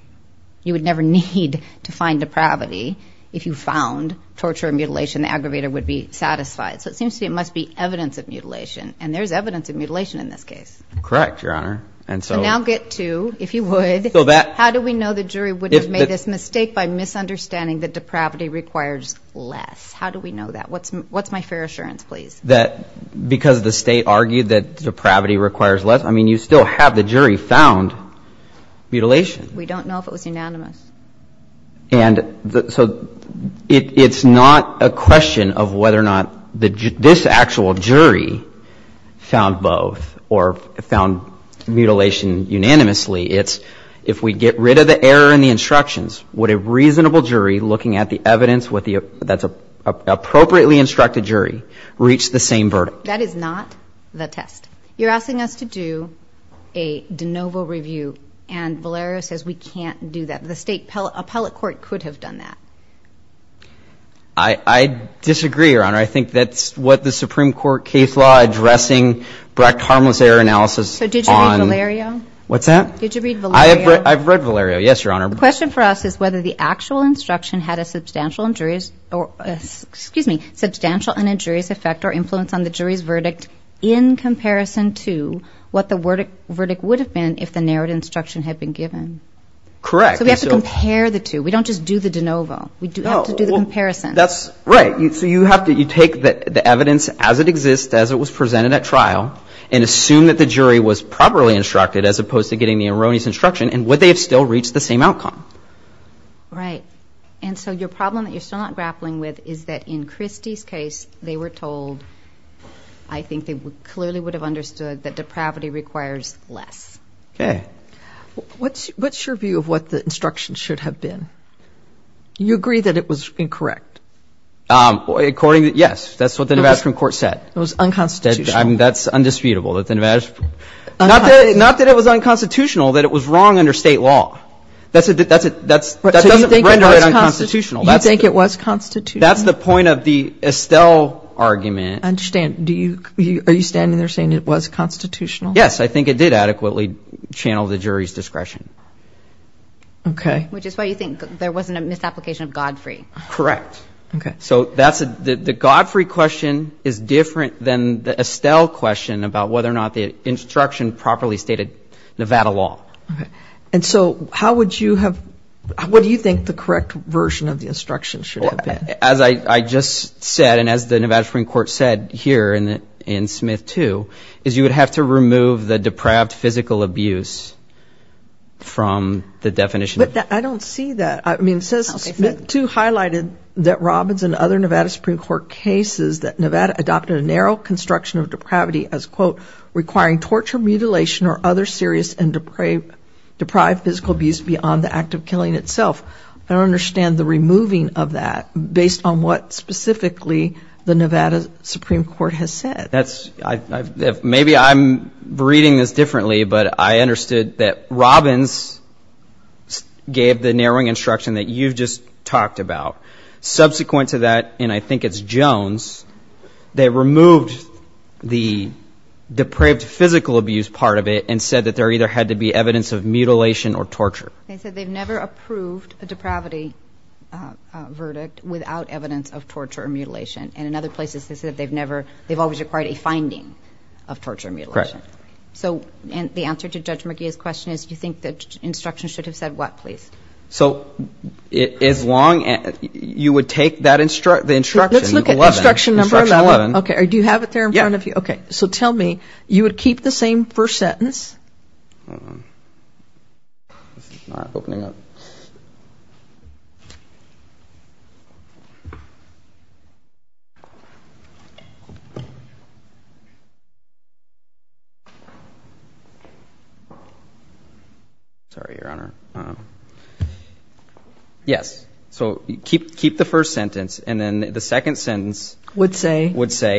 You would never need to find depravity if you found torture and mutilation. The aggravator would be satisfied. So it seems to me it must be evidence of mutilation, and there's evidence of mutilation in this case. Correct, Your Honor. Now get to, if you would, how do we know the jury would have made this mistake by misunderstanding that depravity requires less? How do we know that? What's my fair assurance, please? That because the state argued that depravity requires less, I mean, you still have the jury found mutilation. We don't know if it was unanimous. And so it's not a question of whether or not this actual jury found both or found mutilation unanimously. It's if we get rid of the error in the instructions, would a reasonable jury looking at the evidence that's appropriately instructed jury reach the same verdict? That is not the test. You're asking us to do a de novo review, and Valerio says we can't do that. The state appellate court could have done that. I disagree, Your Honor. I think that's what the Supreme Court case law addressing Brecht harmless error analysis on – So did you read Valerio? What's that? Did you read Valerio? I've read Valerio, yes, Your Honor. The question for us is whether the actual instruction had a substantial injurious – excuse me, substantial and injurious effect or influence on the jury's verdict in comparison to what the verdict would have been if the narrowed instruction had been given. Correct. So we have to compare the two. We don't just do the de novo. We have to do the comparison. That's right. So you have to – you take the evidence as it exists, as it was presented at trial, and assume that the jury was properly instructed as opposed to getting the erroneous instruction. And would they have still reached the same outcome? Right. And so your problem that you're still not grappling with is that in Christie's case, they were told – I think they clearly would have understood that depravity requires less. Okay. What's your view of what the instruction should have been? You agree that it was incorrect? According to – yes, that's what the Nevada Supreme Court said. It was unconstitutional. That's undisputable that the Nevada – not that it was unconstitutional, that it was wrong under state law. That doesn't render it unconstitutional. You think it was constitutional? That's the point of the Estelle argument. I understand. Are you standing there saying it was constitutional? Yes, I think it did adequately channel the jury's discretion. Okay. Which is why you think there wasn't a misapplication of Godfrey. Correct. Okay. So that's – the Godfrey question is different than the Estelle question about whether or not the instruction properly stated Nevada law. Okay. And so how would you have – what do you think the correct version of the instruction should have been? As I just said, and as the Nevada Supreme Court said here in Smith 2, is you would have to remove the depraved physical abuse from the definition. But I don't see that. I mean, it says Smith 2 highlighted that Robbins and other Nevada Supreme Court cases that Nevada adopted a narrow construction of depravity as, quote, requiring torture, mutilation, or other serious and deprived physical abuse beyond the act of killing itself. I don't understand the removing of that based on what specifically the Nevada Supreme Court has said. Maybe I'm reading this differently, but I understood that Robbins gave the narrowing instruction that you just talked about. Subsequent to that, and I think it's Jones, they removed the depraved physical abuse part of it and said that there either had to be evidence of mutilation or torture. They said they've never approved a depravity verdict without evidence of torture or mutilation. And in other places, they said they've always required a finding of torture or mutilation. Correct. So the answer to Judge McGee's question is do you think the instruction should have said what, please? So as long as you would take that instruction, the instruction 11. Let's look at instruction number 11. Instruction 11. Okay, do you have it there in front of you? Yeah. Okay, so tell me, you would keep the same first sentence? It's not opening up. Sorry, Your Honor. I don't know. Yes, so keep the first sentence, and then the second sentence would say,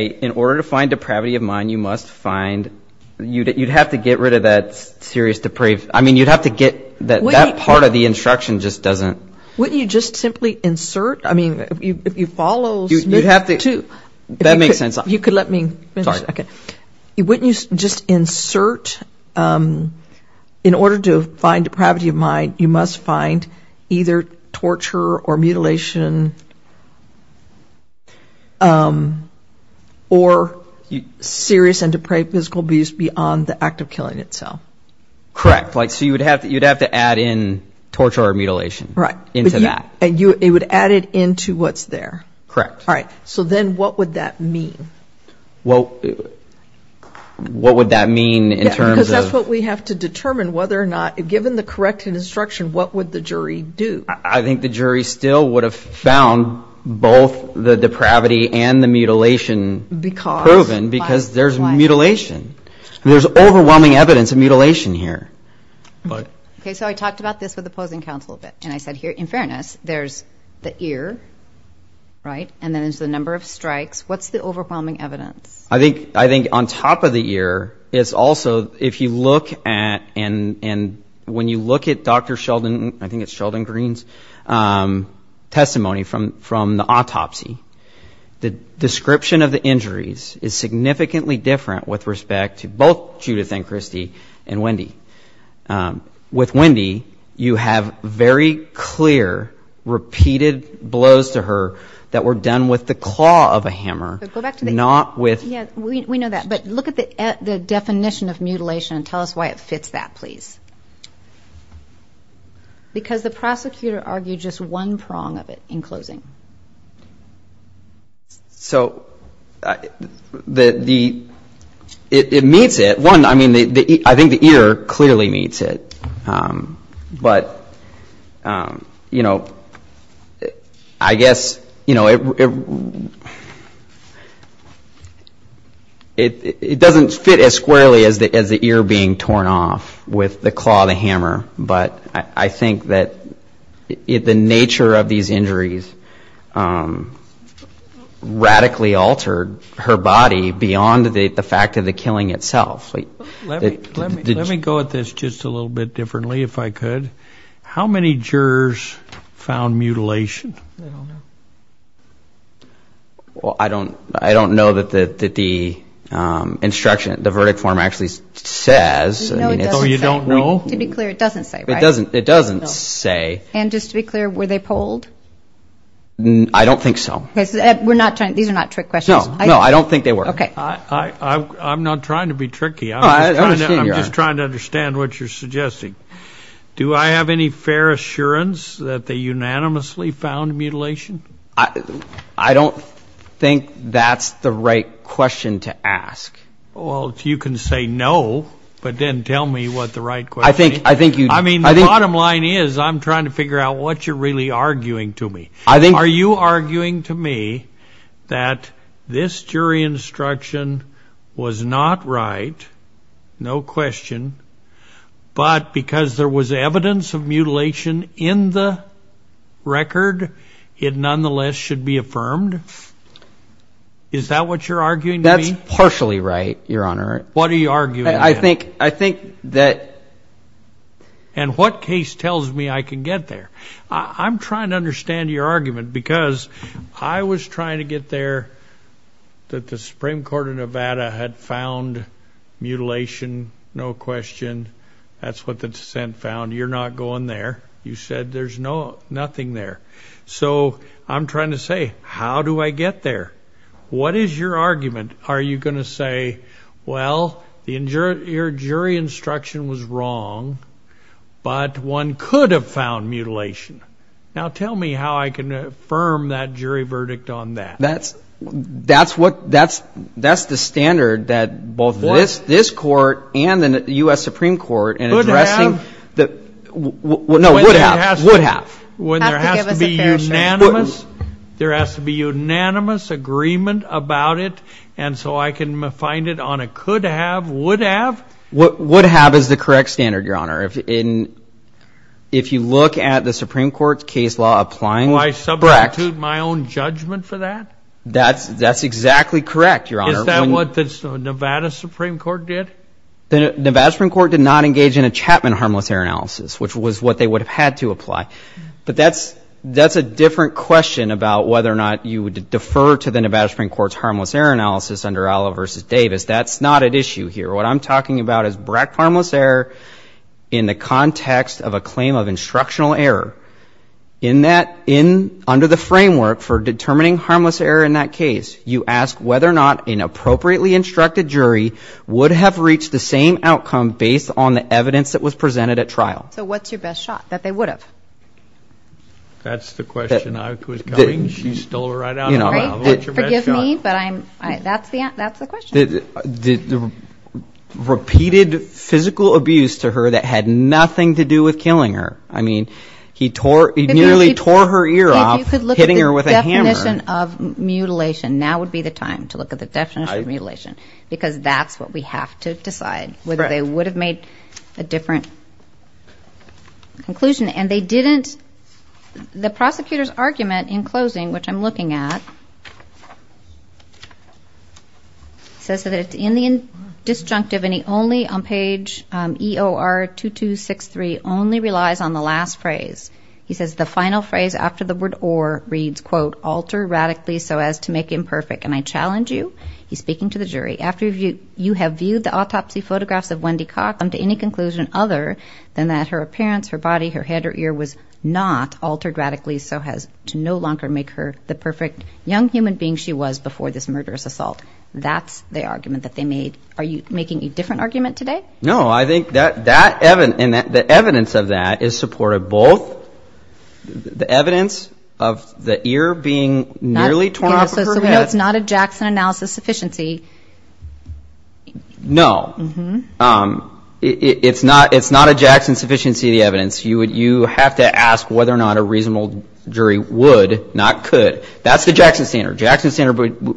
in order to find depravity of mind, you must find, you'd have to get rid of that serious depraved. I mean, you'd have to get, that part of the instruction just doesn't. Wouldn't you just simply insert, I mean, if you follow, you'd have to. That makes sense. You could let me finish. Sorry. Okay. Wouldn't you just insert, in order to find depravity of mind, you must find either torture or mutilation or serious and depraved physical abuse beyond the act of killing itself. Correct. Like, so you'd have to add in torture or mutilation into that. Right. And it would add it into what's there. Correct. Right. So then what would that mean? Well, what would that mean in terms of. Because that's what we have to determine whether or not, given the correct instruction, what would the jury do? I think the jury still would have found both the depravity and the mutilation. Because. Proven, because there's mutilation. There's overwhelming evidence of mutilation here. But. Okay, so I talked about this with the opposing counsel a bit, and I said here, in fairness, there's the ear, right, and then there's the number of strikes. What's the overwhelming evidence? I think on top of the ear is also, if you look at, and when you look at Dr. Sheldon, I think it's Sheldon Green's testimony from the autopsy, the description of the injuries is significantly different with respect to both Judith and Christy and Wendy. With Wendy, you have very clear, repeated blows to her that were done with the claw of a hammer, not with. Yes, we know that. But look at the definition of mutilation and tell us why it fits that, please. Because the prosecutor argued just one prong of it in closing. So it meets it. One, I mean, I think the ear clearly meets it. But, you know, I guess, you know, it doesn't fit as squarely as the ear being torn off with the claw of the hammer. But I think that the nature of these injuries radically altered her body beyond the fact of the killing itself. Let me go at this just a little bit differently, if I could. How many jurors found mutilation? Well, I don't know that the instruction, the verdict form actually says. So you don't know. To be clear, it doesn't say. It doesn't. It doesn't say. And just to be clear, were they polled? I don't think so. We're not trying. These are not trick questions. No, I don't think they were. OK. I'm not trying to be tricky. I'm just trying to understand what you're suggesting. Do I have any fair assurance that they unanimously found mutilation? I don't think that's the right question to ask. Well, you can say no, but then tell me what the right question is. I mean, the bottom line is I'm trying to figure out what you're really arguing to me. Are you arguing to me that this jury instruction was not right, no question, but because there was evidence of mutilation in the record, it nonetheless should be affirmed? Is that what you're arguing to me? Partially right, Your Honor. What are you arguing? I think that... And what case tells me I can get there? I'm trying to understand your argument because I was trying to get there that the Supreme Court of Nevada had found mutilation, no question. That's what the dissent found. You're not going there. You said there's nothing there. So I'm trying to say, how do I get there? What is your argument? Are you going to say, well, your jury instruction was wrong, but one could have found mutilation. Now tell me how I can affirm that jury verdict on that. That's the standard that both this court and the U.S. Supreme Court... Would have. No, would have. When there has to be unanimous agreement about it, and so I can find it on a could have, would have? Would have is the correct standard, Your Honor. If you look at the Supreme Court's case law applying... Will I substitute my own judgment for that? That's exactly correct, Your Honor. Is that what the Nevada Supreme Court did? The Nevada Supreme Court did not engage in a Chapman harmless error analysis, which was what they would have had to apply. But that's a different question about whether or not you would defer to the Nevada Supreme Court's harmless error analysis under Allah v. Davis. That's not at issue here. What I'm talking about is Brecht harmless error in the context of a claim of instructional error. Under the framework for determining harmless error in that case, you ask whether or not an appropriately instructed jury would have reached the same outcome based on the evidence that was presented at trial. So what's your best shot? That they would have. That's the question I was coming to. You stole it right out of my mouth. What's your best shot? Forgive me, but that's the question. Repeated physical abuse to her that had nothing to do with killing her. I mean, he nearly tore her ear off, hitting her with a hammer. You could look at the definition of mutilation. Now would be the time to look at the definition of mutilation, because that's what we have to decide. Whether they would have made a different conclusion. And they didn't. The prosecutor's argument in closing, which I'm looking at, says that it's in the disjunctive and he only, on page EOR-2263, only relies on the last phrase. He says the final phrase after the word or reads, quote, alter radically so as to make imperfect. And I challenge you, he's speaking to the jury, after you have viewed the autopsy photographs of Wendy Coughlin to any conclusion other than that her appearance, her body, her head, her ear was not altered radically so as to no longer make her the perfect young human being. She was before this murderous assault. That's the argument that they made. Are you making a different argument today? No, I think the evidence of that is supportive. Both the evidence of the ear being nearly torn off of her head. So it's not a Jackson analysis sufficiency. No. It's not a Jackson sufficiency of the evidence. You have to ask whether or not a reasonable jury would, not could. That's the Jackson standard. Jackson standard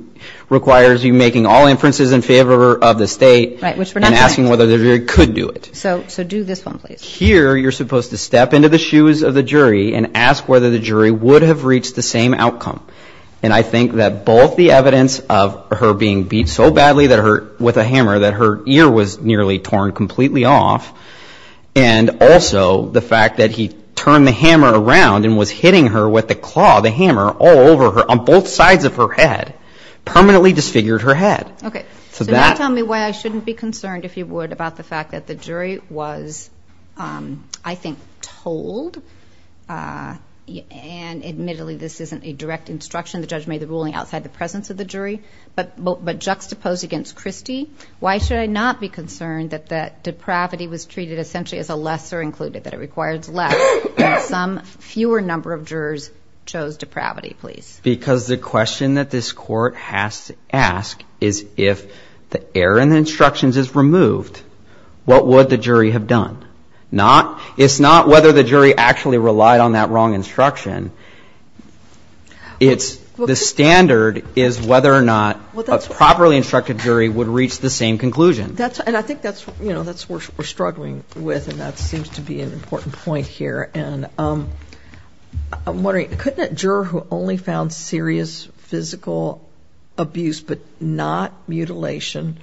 requires you making all inferences in favor of the state and asking whether the jury could do it. So do this one, please. Here you're supposed to step into the shoes of the jury and ask whether the jury would have reached the same outcome. And I think that both the evidence of her being beat so badly with a hammer that her ear was nearly torn completely off and also the fact that he turned the hammer around and was hitting her with the claw, the hammer, all over her, on both sides of her head, permanently disfigured her head. So now tell me why I shouldn't be concerned, if you would, about the fact that the jury was, I think, told, and admittedly this isn't a direct instruction. The judge made the ruling outside the presence of the jury, but juxtaposed against Christie. Why should I not be concerned that that depravity was treated essentially as a lesser included, that it requires less, that some fewer number of jurors chose depravity, please? Because the question that this court has to ask is if the error in the instructions is removed, what would the jury have done? It's not whether the jury actually relied on that wrong instruction. The standard is whether or not a properly instructed jury would reach the same conclusion. And I think that's what we're struggling with, and that seems to be an important point here. Thank you. I'm wondering, couldn't a juror who only found serious physical abuse but not mutilation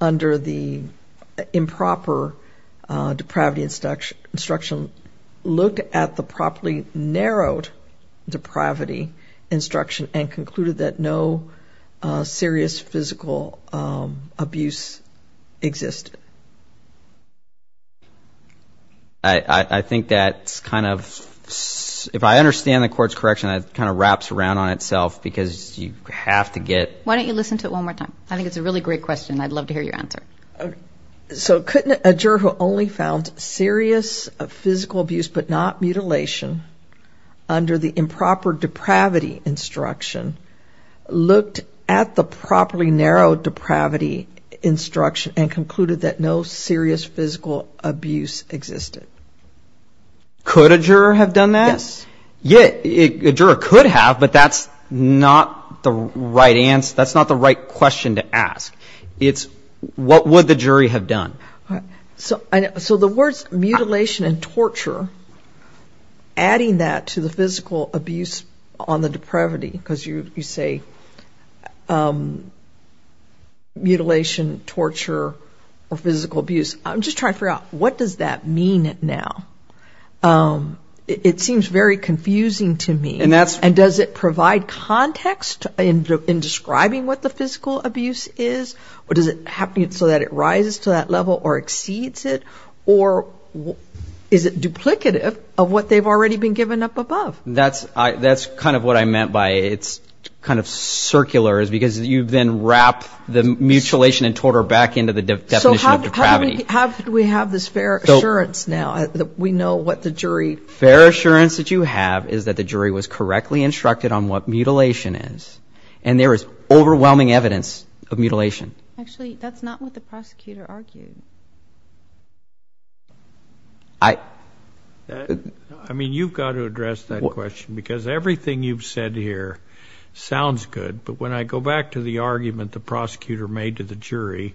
under the improper depravity instruction look at the properly narrowed depravity instruction and concluded that no serious physical abuse existed? I think that's kind of, if I understand the court's correction, that kind of wraps around on itself, because you have to get... Why don't you listen to it one more time? I think it's a really great question, and I'd love to hear your answer. So, couldn't a juror who only found serious physical abuse but not mutilation under the improper depravity instruction look at the properly narrowed depravity instruction and concluded that no serious physical abuse existed? Could a juror have done that? Yes. A juror could have, but that's not the right question to ask. It's, what would the jury have done? So, the words mutilation and torture, adding that to the physical abuse on the depravity, because you say mutilation, torture, or physical abuse. I'm just trying to figure out, what does that mean now? It seems very confusing to me. And does it provide context in describing what the physical abuse is? Or does it have to be so that it rises to that level or exceeds it? Or is it duplicative of what they've already been given up above? That's kind of what I meant by it's kind of circular, is because you then wrap the mutilation and torture back into the definition of depravity. How do we have this fair assurance now that we know what the jury? Fair assurance that you have is that the jury was correctly instructed on what mutilation is. And there is overwhelming evidence of mutilation. Actually, that's not what the prosecutor argued. I mean, you've got to address that question because everything you've said here sounds good. But when I go back to the argument the prosecutor made to the jury,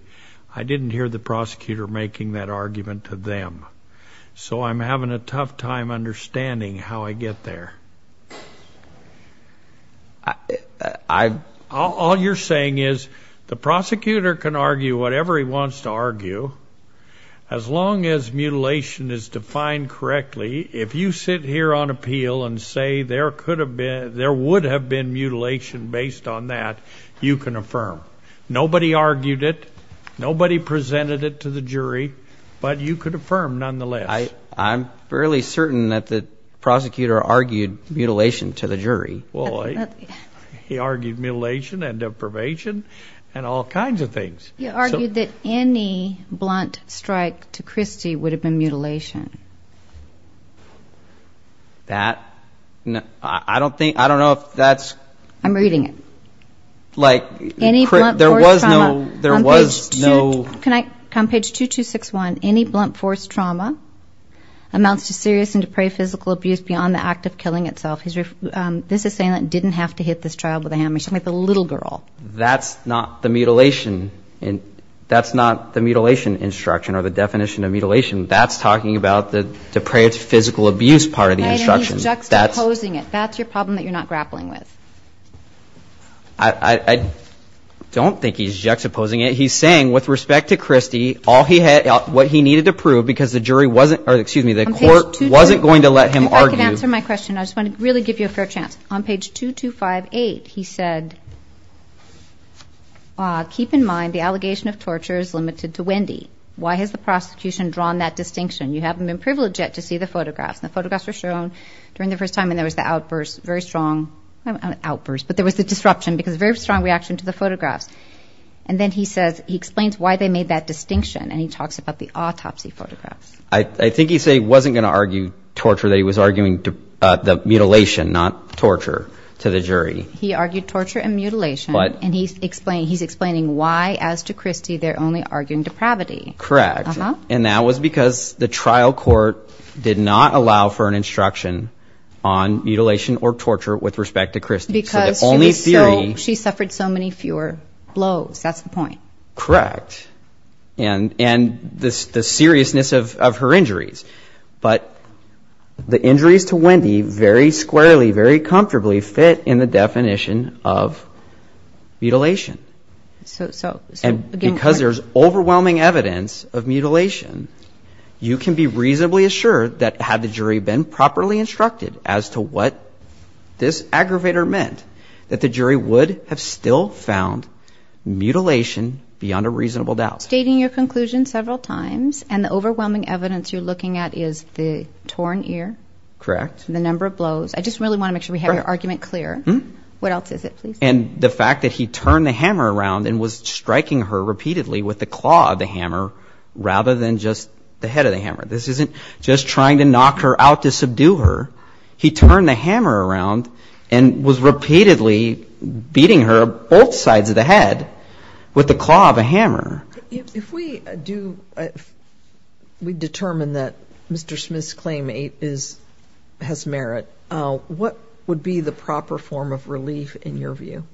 I didn't hear the prosecutor making that argument to them. So I'm having a tough time understanding how I get there. All you're saying is, the prosecutor can argue whatever he wants to argue. As long as mutilation is defined correctly, if you sit here on appeal and say there would have been mutilation based on that, you can affirm. Nobody argued it. Nobody presented it to the jury. But you could affirm nonetheless. I'm fairly certain that the prosecutor argued mutilation to the jury. Well, he argued mutilation and deprivation and all kinds of things. He argued that any blunt strike to Christy would have been mutilation. That? I don't think, I don't know if that's... I'm reading it. Like... Any blunt force trauma... There was no... On page 2261, any blunt force trauma amounts to serious and depraved physical abuse beyond the act of killing itself. This is saying that it didn't have to hit this child with a hammer. She was a little girl. That's not the mutilation... That's not the mutilation instruction or the definition of mutilation. That's talking about the depraved physical abuse part of the instruction. He's juxtaposing it. That's your problem that you're not grappling with. I don't think he's juxtaposing it. He's saying, with respect to Christy, all he had... What he needed to prove, because the jury wasn't... Or, excuse me, the court wasn't going to let him argue... If I could answer my question, I just want to really give you a fair chance. On page 2258, he said... Keep in mind, the allegation of torture is limited to Wendy. Why has the prosecution drawn that distinction? You haven't been privileged yet to see the photographs. The photographs were shown during the first time, and there was the outburst, very strong... Not an outburst, but there was a disruption, because very strong reaction to the photographs. And then he says... He explains why they made that distinction, and he talks about the autopsy photographs. I think he said he wasn't going to argue torture. That he was arguing the mutilation, not torture, to the jury. He argued torture and mutilation, and he's explaining why, as to Christy, they're only arguing depravity. Correct. And that was because the trial court did not allow for an instruction on mutilation or torture with respect to Christy. Because she suffered so many fewer blows. That's the point. Correct. And the seriousness of her injuries. But the injuries to Wendy very squarely, very comfortably fit in the definition of mutilation. And because there's overwhelming evidence of mutilation, you can be reasonably assured that had the jury been properly instructed as to what this aggravator meant, that the jury would have still found mutilation beyond a reasonable doubt. Stating your conclusion several times, and the overwhelming evidence you're looking at is the torn ear. Correct. The number of blows. I just really want to make sure we have your argument clear. What else is it, please? And the fact that he turned the hammer around and was striking her repeatedly with the claw of the hammer, rather than just the head of the hammer. This isn't just trying to knock her out to subdue her. He turned the hammer around and was repeatedly beating her both sides of the head with the claw of a hammer. If we determine that Mr. Smith's claim has merit, what would be the proper form of relief in your view?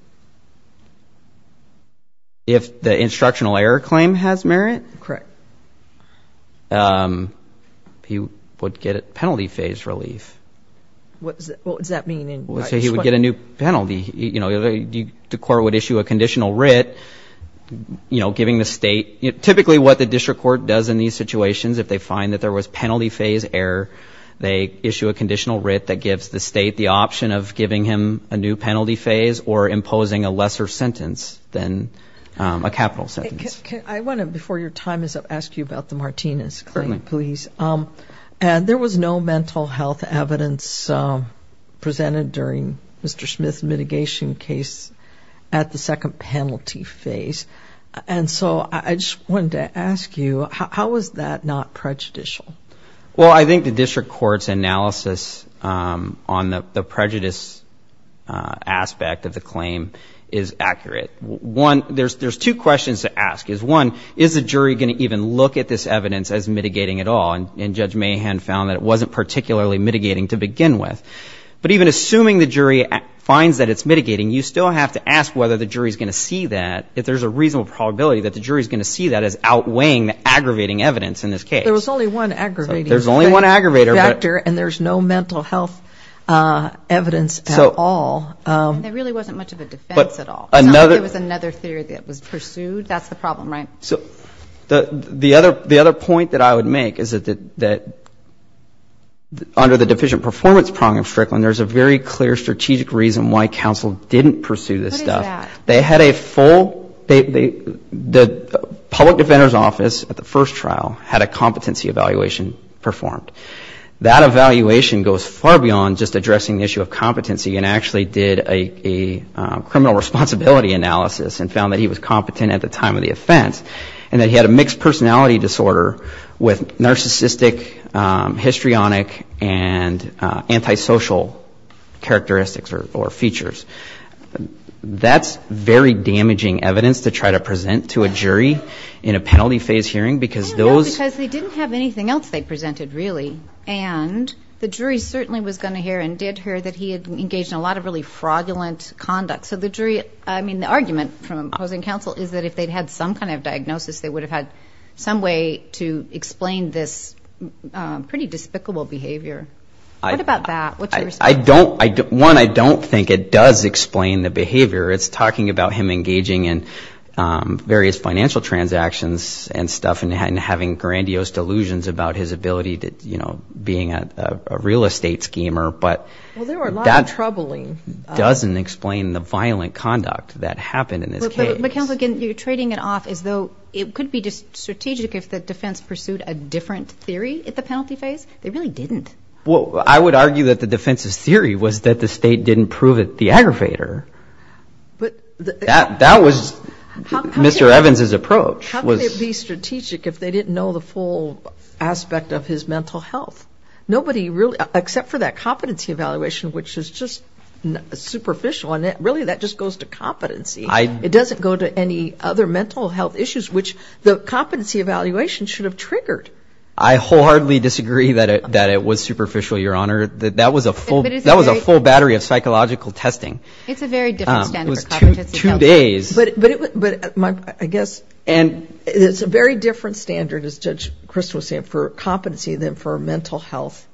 If the instructional error claim has merit? Correct. He would get a penalty phase relief. What does that mean? He would get a new penalty. The court would issue a conditional writ giving the state. Typically what the district court does in these situations, if they find that there was penalty phase error, they issue a conditional writ that gives the state the option of giving him a new penalty phase or imposing a lesser sentence than a capital sentence. Before your time is up, I want to ask you about the Martinez claim, please. There was no mental health evidence presented during Mr. Smith's mitigation case at the second penalty phase. I just wanted to ask you, how is that not prejudicial? I think the district court's analysis on the prejudice aspect of the claim is accurate. There's two questions to ask. One, is the jury going to even look at this evidence as mitigating at all? Judge Mahan found that it wasn't particularly mitigating to begin with. But even assuming the jury finds that it's mitigating, you still have to ask whether the jury is going to see that, if there's a reasonable probability that the jury is going to see that as outweighing the aggravating evidence in this case. There was only one aggravating factor, and there's no mental health evidence at all. There really wasn't much of a defense at all. It was another theory that was pursued. That's the problem, right? The other point that I would make is that under the deficient performance problem in Strickland, there's a very clear strategic reason why counsel didn't pursue this stuff. What is that? The public defender's office at the first trial had a competency evaluation performed. That evaluation goes far beyond just addressing the issue of competency and actually did a criminal responsibility analysis and found that he was competent at the time of the offense and that he had a mixed personality disorder with narcissistic, histrionic, and antisocial characteristics or features. That's very damaging evidence to try to present to a jury in a penalty phase hearing because those... The jury certainly was going to hear and did hear that he had engaged in a lot of really fraudulent conduct. So the argument from opposing counsel is that if they'd had some kind of diagnosis, they would have had some way to explain this pretty despicable behavior. What about that? One, I don't think it does explain the behavior. It's talking about him engaging in various financial transactions and stuff and having grandiose delusions about his ability to, you know, being a real estate schemer, but that doesn't explain the violent conduct that happened. But counsel, again, you're trading it off as though it could be strategic if the defense pursued a different theory at the penalty phase. They really didn't. Well, I would argue that the defense's theory was that the state didn't prove it the aggravator. That was Mr. Evans' approach. How could it be strategic if they didn't know the full aspect of his mental health? Nobody really, except for that competency evaluation, which was just superficial, and really that just goes to competency. It doesn't go to any other mental health issues, which the competency evaluation should have triggered. I wholeheartedly disagree that it was superficial, Your Honor. That was a full battery of psychological testing. It's a very different standard for competency evaluation. Two days. But I guess it's a very different standard, as Judge Chris was saying, for competency than for a mental health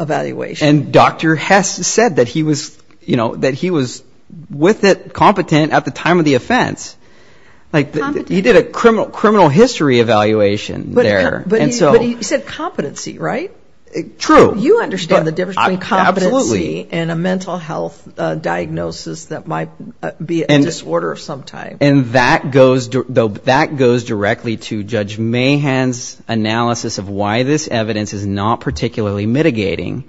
evaluation. And Dr. Hess said that he was, you know, that he was with it, competent, at the time of the offense. He did a criminal history evaluation there. But he said competency, right? True. So you understand the difference between competency and a mental health diagnosis that might be a disorder of some type. And that goes directly to Judge Mahan's analysis of why this evidence is not particularly mitigating,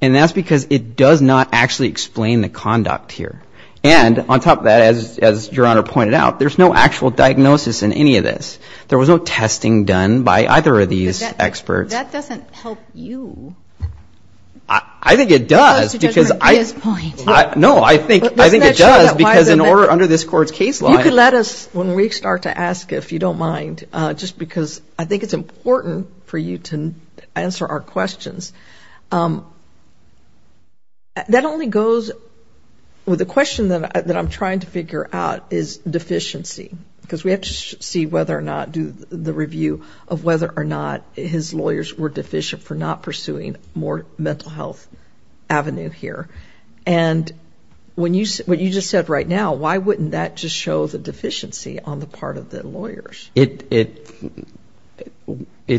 and that's because it does not actually explain the conduct here. And on top of that, as Your Honor pointed out, there's no actual diagnosis in any of this. There was no testing done by either of these experts. That doesn't help you. I think it does. No, I think it does. Because under this court's case law. You can let us, when we start to ask if you don't mind, just because I think it's important for you to answer our questions. That only goes with the question that I'm trying to figure out is deficiency. Because we have to see whether or not, do the review of whether or not his lawyers were deficient for not pursuing more mental health avenue here. And what you just said right now, why wouldn't that just show the deficiency on the part of the lawyers? It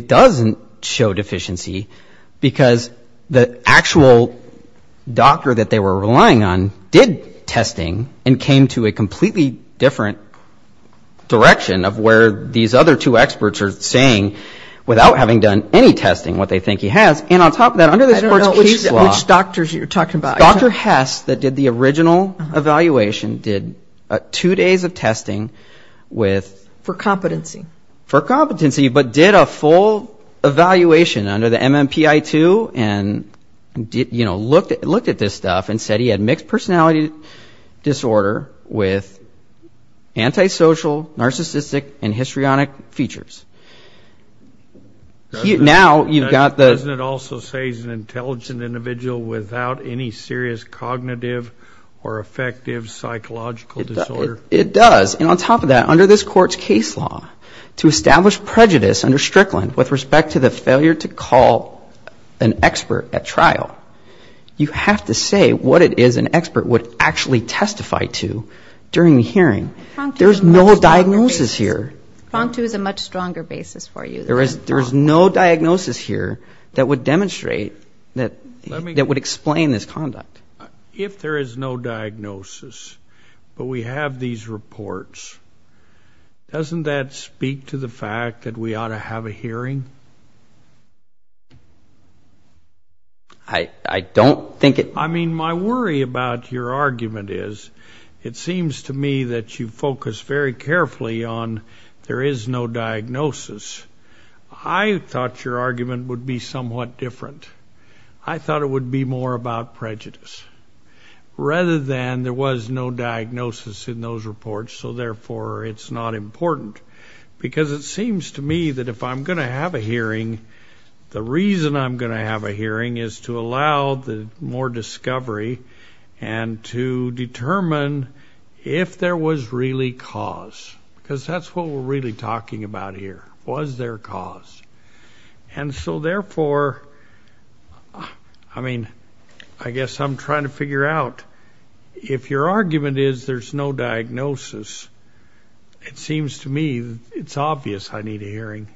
doesn't show deficiency because the actual doctor that they were relying on did testing and came to a completely different direction of where these other two experts are saying, without having done any testing, what they think he has. And on top of that, under this court's case law. I don't know which doctors you're talking about. Dr. Hess that did the original evaluation did two days of testing with. For competency. For competency, but did a full evaluation under the MMPI-2 and looked at this stuff and said he had mixed personality disorder with antisocial, narcissistic, and histrionic features. Doesn't it also say he's an intelligent individual without any serious cognitive or affective psychological disorder? It does. And on top of that, under this court's case law, to establish prejudice under Strickland with respect to the failure to call an expert at trial, you have to say what it is an expert would actually testify to during the hearing. There's no diagnosis here. Fontu has a much stronger basis for you. There's no diagnosis here that would demonstrate, that would explain this conduct. If there is no diagnosis, but we have these reports, doesn't that speak to the fact that we ought to have a hearing? I don't think it. My worry about your argument is it seems to me that you focus very carefully on there is no diagnosis. I thought your argument would be somewhat different. I thought it would be more about prejudice, rather than there was no diagnosis in those reports, so therefore it's not important. Because it seems to me that if I'm going to have a hearing, the reason I'm going to have a hearing is to allow more discovery and to determine if there was really cause, because that's what we're really talking about here, was there cause. And so therefore, I mean, I guess I'm trying to figure out, if your argument is there's no diagnosis, it seems to me it's obvious I need a hearing.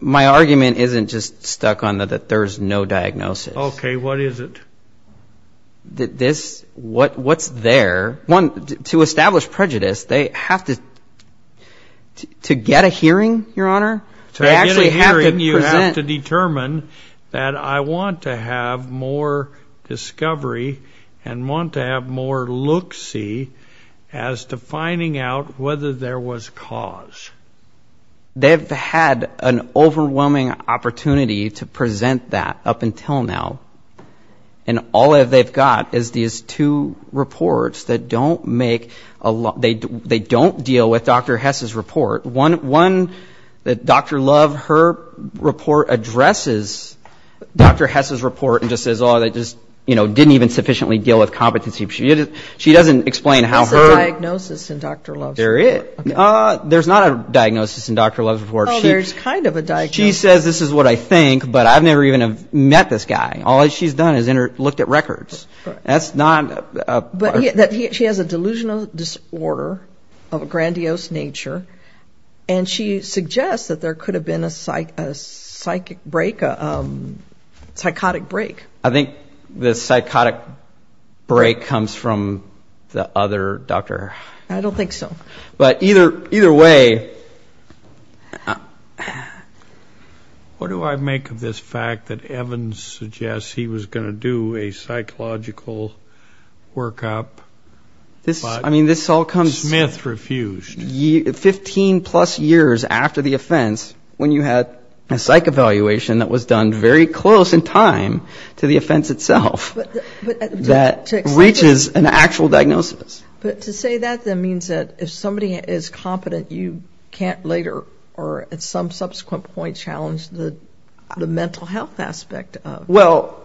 My argument isn't just stuck on that there's no diagnosis. Okay, what is it? What's there? One, to establish prejudice, they have to get a hearing, Your Honor? To get a hearing, you have to determine that I want to have more discovery and want to have more looksy as to finding out whether there was cause. They've had an overwhelming opportunity to present that up until now, and all they've got is these two reports that don't make a lot, they don't deal with Dr. Hess's report. One that Dr. Love, her report addresses Dr. Hess's report and just says, oh, they just didn't even sufficiently deal with competency. She doesn't explain how her... What's the diagnosis in Dr. Love's report? There's not a diagnosis in Dr. Love's report. Oh, there's kind of a diagnosis. She says this is what I think, but I've never even met this guy. All she's done is looked at records. That's not... She has a delusional disorder of a grandiose nature, and she suggests that there could have been a psychotic break. I think the psychotic break comes from the other doctor. I don't think so. But either way... What do I make of this fact that Evans suggests he was going to do a psychological workup, but Smith refused? Fifteen-plus years after the offense, when you had a psych evaluation that was done very close in time to the offense itself, that reaches an actual diagnosis. But to say that, then, means that if somebody is competent, you can't later or at some subsequent point challenge the mental health aspect of it. Well,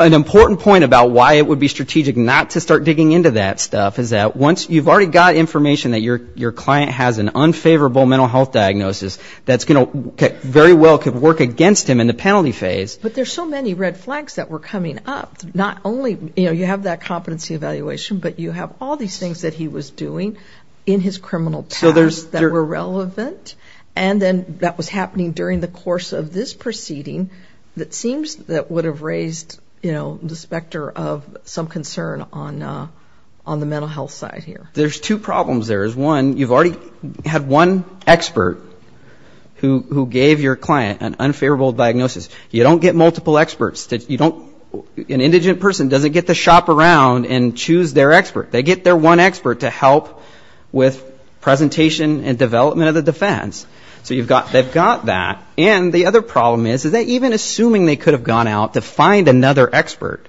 an important point about why it would be strategic not to start digging into that stuff is that once you've already got information that your client has an unfavorable mental health diagnosis that's going to very well work against him in the penalty phase... But there's so many red flags that were coming up. You have that competency evaluation, but you have all these things that he was doing in his criminal past that were relevant, and then that was happening during the course of this proceeding that seems that would have raised the specter of some concern on the mental health side here. There's two problems there. One, you've already had one expert who gave your client an unfavorable diagnosis. You don't get multiple experts. An indigent person doesn't get to shop around and choose their expert. They get their one expert to help with presentation and development of the defense. So they've got that. And the other problem is that even assuming they could have gone out to find another expert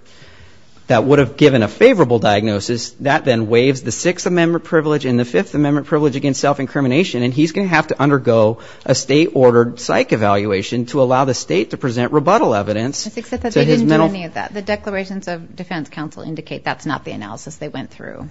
that would have given a favorable diagnosis, that then waives the Sixth Amendment privilege and the Fifth Amendment privilege against self-incrimination, and he's going to have to undergo a state-ordered psych evaluation to allow the state to present rebuttal evidence. The declarations of defense counsel indicate that's not the analysis they went through.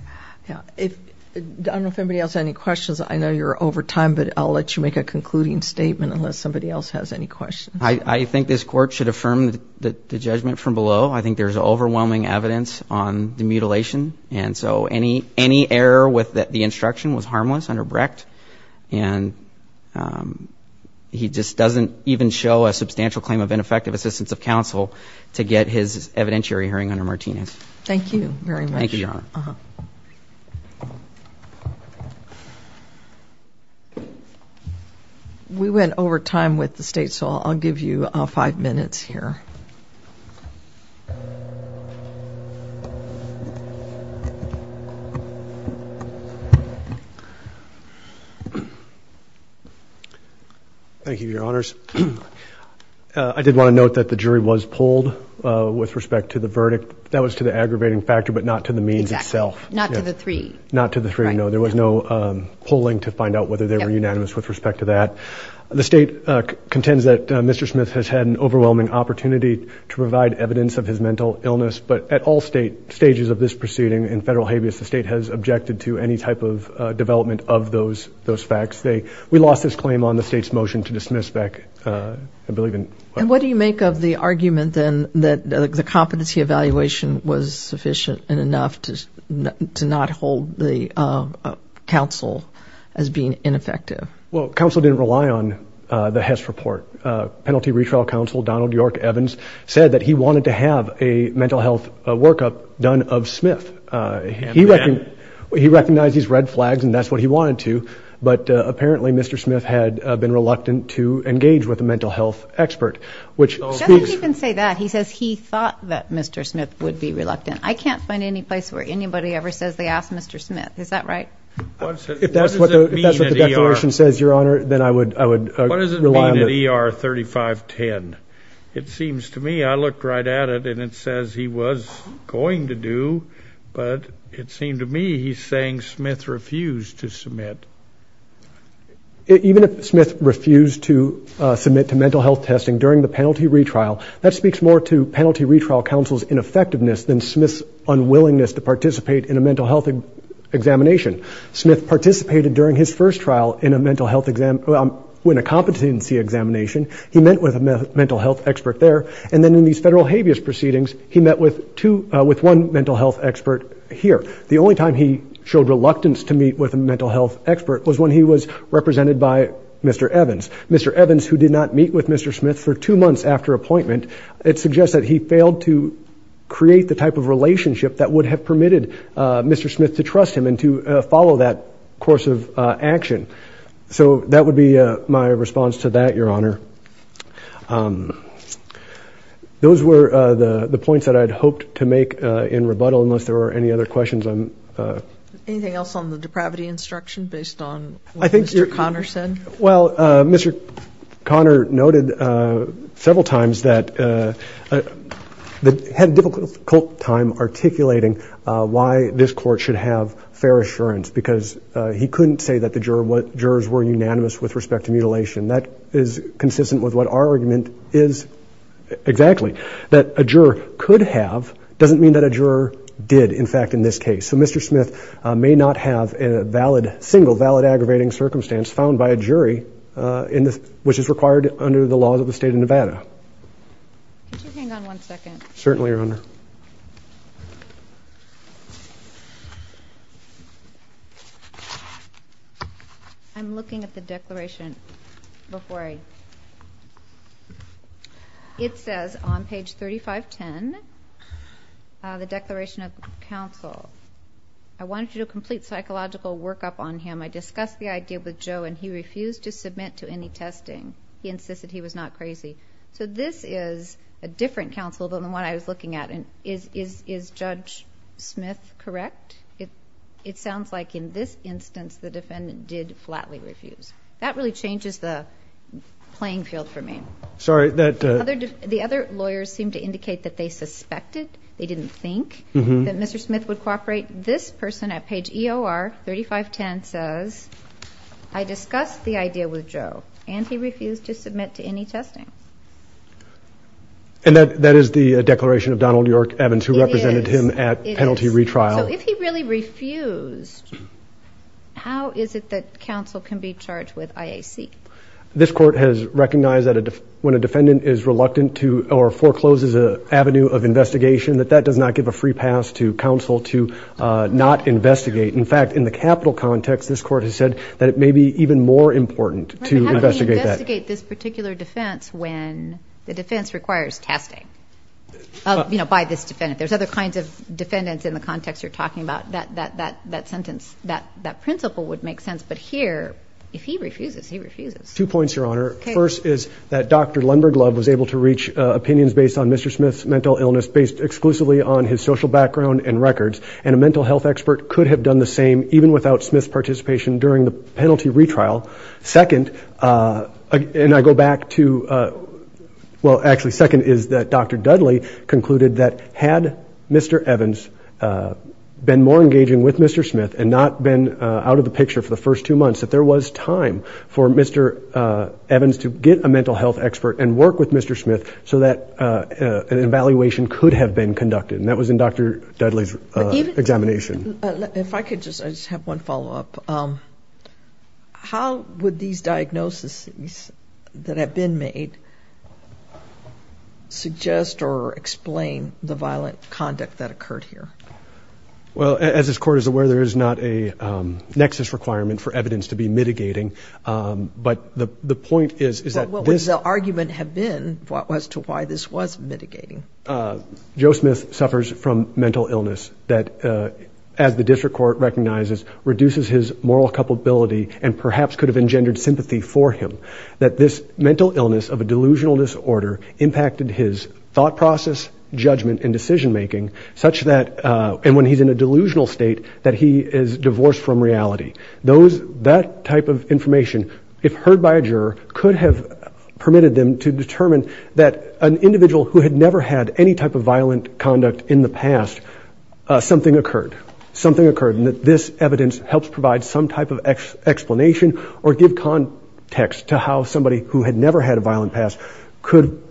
I don't know if anybody else has any questions. I know you're over time, but I'll let you make a concluding statement unless somebody else has any questions. I think this court should affirm the judgment from below. I think there's overwhelming evidence on the mutilation, and so any error with the instruction was harmless under Brecht, and he just doesn't even show a substantial claim of ineffective assistance of counsel to get his evidentiary hearing under Martinez. Thank you, Your Honor. We went over time with the state, so I'll give you five minutes here. Thank you, Your Honors. I did want to note that the jury was polled with respect to the verdict. That was to the aggravating factor, but not to the means itself. Not to the three. Not to the three, no. There was no polling to find out whether they were unanimous with respect to that. The state contends that Mr. Smith has had an overwhelming opportunity to provide evidence of his mental illness, but at all stages of this proceeding in federal habeas, the state has objected to any type of development of those facts. We lost this claim on the state's motion to dismiss Beck. And what do you make of the argument, then, that the competency evaluation was sufficient and enough to not hold the counsel as being ineffective? Well, counsel didn't rely on the Hess report. Penalty Retrial Counsel Donald York Evans said that he wanted to have a mental health workup done of Smith. He recognized these red flags, and that's what he wanted to, but apparently Mr. Smith had been reluctant to engage with a mental health expert. I think you can say that. He says he thought that Mr. Smith would be reluctant. I can't find any place where anybody ever says they asked Mr. Smith. Is that right? If that's what the declaration says, Your Honor, then I would rely on this. What does it mean to ER 3510? It seems to me, I looked right at it, and it says he was going to do, but it seems to me he's saying Smith refused to submit. Even if Smith refused to submit to mental health testing during the penalty retrial, that speaks more to Penalty Retrial Counsel's ineffectiveness than Smith's unwillingness to participate in a mental health examination. Smith participated during his first trial in a competency examination. He met with a mental health expert there, and then in these federal habeas proceedings, he met with one mental health expert here. The only time he showed reluctance to meet with a mental health expert was when he was represented by Mr. Evans. Mr. Evans, who did not meet with Mr. Smith for two months after appointment, it suggests that he failed to create the type of relationship that would have permitted Mr. Smith to trust him and to follow that course of action. So that would be my response to that, Your Honor. Those were the points that I'd hoped to make in rebuttal, unless there were any other questions. Anything else on the depravity instruction based on what Mr. Conner said? Well, Mr. Conner noted several times that he had a difficult time articulating why this court should have fair assurance, because he couldn't say that the jurors were unanimous with respect to mutilation. That is consistent with what our argument is exactly. That a juror could have doesn't mean that a juror did, in fact, in this case. So Mr. Smith may not have a single valid aggravating circumstance found by a jury, which is required under the laws of the state of Nevada. Certainly, Your Honor. I'm looking at the declaration before I... It says on page 3510, the declaration of counsel. I want you to complete psychological workup on him. I discussed the idea with Joe, and he refused to submit to any testing. He insisted he was not crazy. So this is a different counsel than the one I was looking at. Is Judge Smith correct? It sounds like in this instance the defendant did flatly refuse. That really changes the playing field for me. Sorry, that... The other lawyers seem to indicate that they suspected, they didn't think, that Mr. Smith would cooperate. This person at page EOR 3510 says, I discussed the idea with Joe, and he refused to submit to any testing. And that is the declaration of Donald York Evans, who represented him at penalty retrial. If he really refused, how is it that counsel can be charged with IAC? This court has recognized that when a defendant is reluctant to, or forecloses an avenue of investigation, that that does not give a free pass to counsel to not investigate. In fact, in the capital context, this court has said that it may be even more important to investigate that. How do you investigate this particular defense when the defense requires testing by this defendant? There's other kinds of defendants in the context you're talking about. That sentence, that principle would make sense. But here, if he refuses, he refuses. Two points, Your Honor. First is that Dr. Lundberg-Love was able to reach opinions based on Mr. Smith's mental illness based exclusively on his social background and records. And a mental health expert could have done the same even without Smith's participation during the penalty retrial. Second, and I go back to... Well, actually, second is that Dr. Dudley concluded that had Mr. Evans been more engaging with Mr. Smith and not been out of the picture for the first two months, that there was time for Mr. Evans to get a mental health expert and work with Mr. Smith so that an evaluation could have been conducted. And that was in Dr. Dudley's examination. If I could just have one follow-up. How would these diagnoses that have been made suggest or explain the violent conduct that occurred here? Well, as this Court is aware, there is not a nexus requirement for evidence to be mitigating. But the point is that... But what would the argument have been as to why this was mitigating? Joe Smith suffers from mental illness that, as the district court recognizes, reduces his moral culpability and perhaps could have engendered sympathy for him. That this mental illness of a delusional disorder impacted his thought process, judgment and decision-making, such that... And when he's in a delusional state, that he is divorced from reality. That type of information, if heard by a juror, could have permitted them to determine that an individual who had never had any type of violent conduct in the past, something occurred. Something occurred, and that this evidence helps provide some type of explanation or give context to how somebody who had never had a violent past could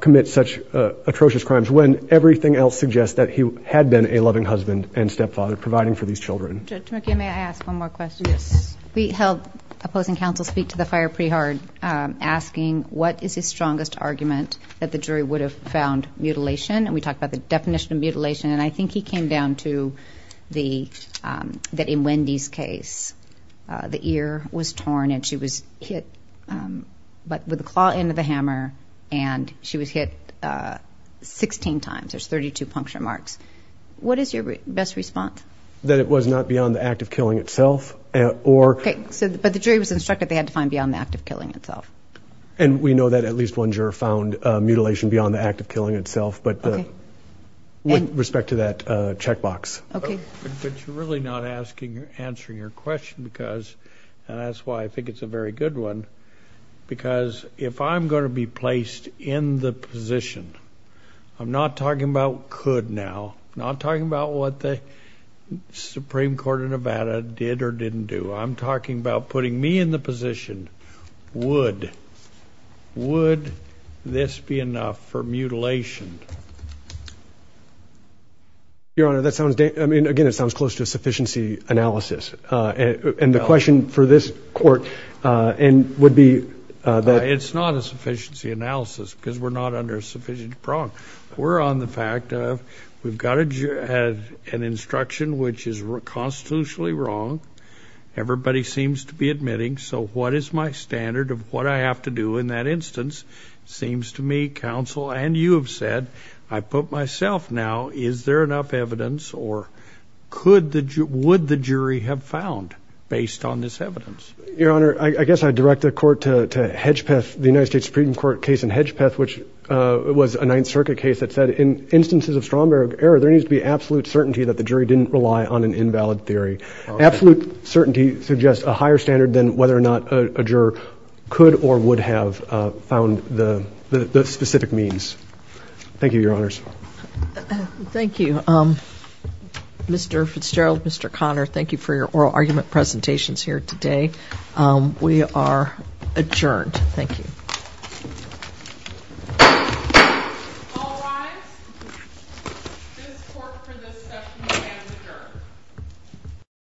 commit such atrocious crimes, when everything else suggests that he had been a loving husband and stepfather providing for these children. Judge McKee, may I ask one more question? Yes. We held opposing counsel speak to the fire pre-hard, asking what is his strongest argument that the jury would have found mutilation? And we talked about the definition of mutilation, and I think he came down to that in Wendy's case, the ear was torn and she was hit with the claw end of a hammer, and she was hit 16 times. There's 32 puncture marks. What is your best response? That it was not beyond the act of killing itself, or... But the jury was instructed they had to find beyond the act of killing itself. And we know that at least one juror found mutilation beyond the act of killing itself, with respect to that checkbox. Okay. I'm really not answering your question because, and that's why I think it's a very good one, because if I'm going to be placed in the position, I'm not talking about could now, I'm not talking about what the Supreme Court of Nevada did or didn't do, I'm talking about putting me in the position, Would this be enough for mutilation? Your Honor, that sounds, I mean, again, it sounds close to a sufficiency analysis. And the question for this court would be that... It's not a sufficiency analysis because we're not under a sufficient prong. We're on the fact of we've got an instruction which is constitutionally wrong. Everybody seems to be admitting, so what is my standard of what I have to do in that instance? Seems to me, counsel and you have said, I put myself now, is there enough evidence or would the jury have found based on this evidence? Your Honor, I guess I'd direct the court to Hedgepeth, the United States Supreme Court case in Hedgepeth, which was a Ninth Circuit case that said, in instances of strong error, there needs to be absolute certainty that the jury didn't rely on an invalid theory. Absolute certainty suggests a higher standard than whether or not a juror could or would have found the specific means. Thank you, Your Honors. Thank you, Mr. Fitzgerald, Mr. Conner. Thank you for your oral argument presentations here today. We are adjourned. Thank you. All rise.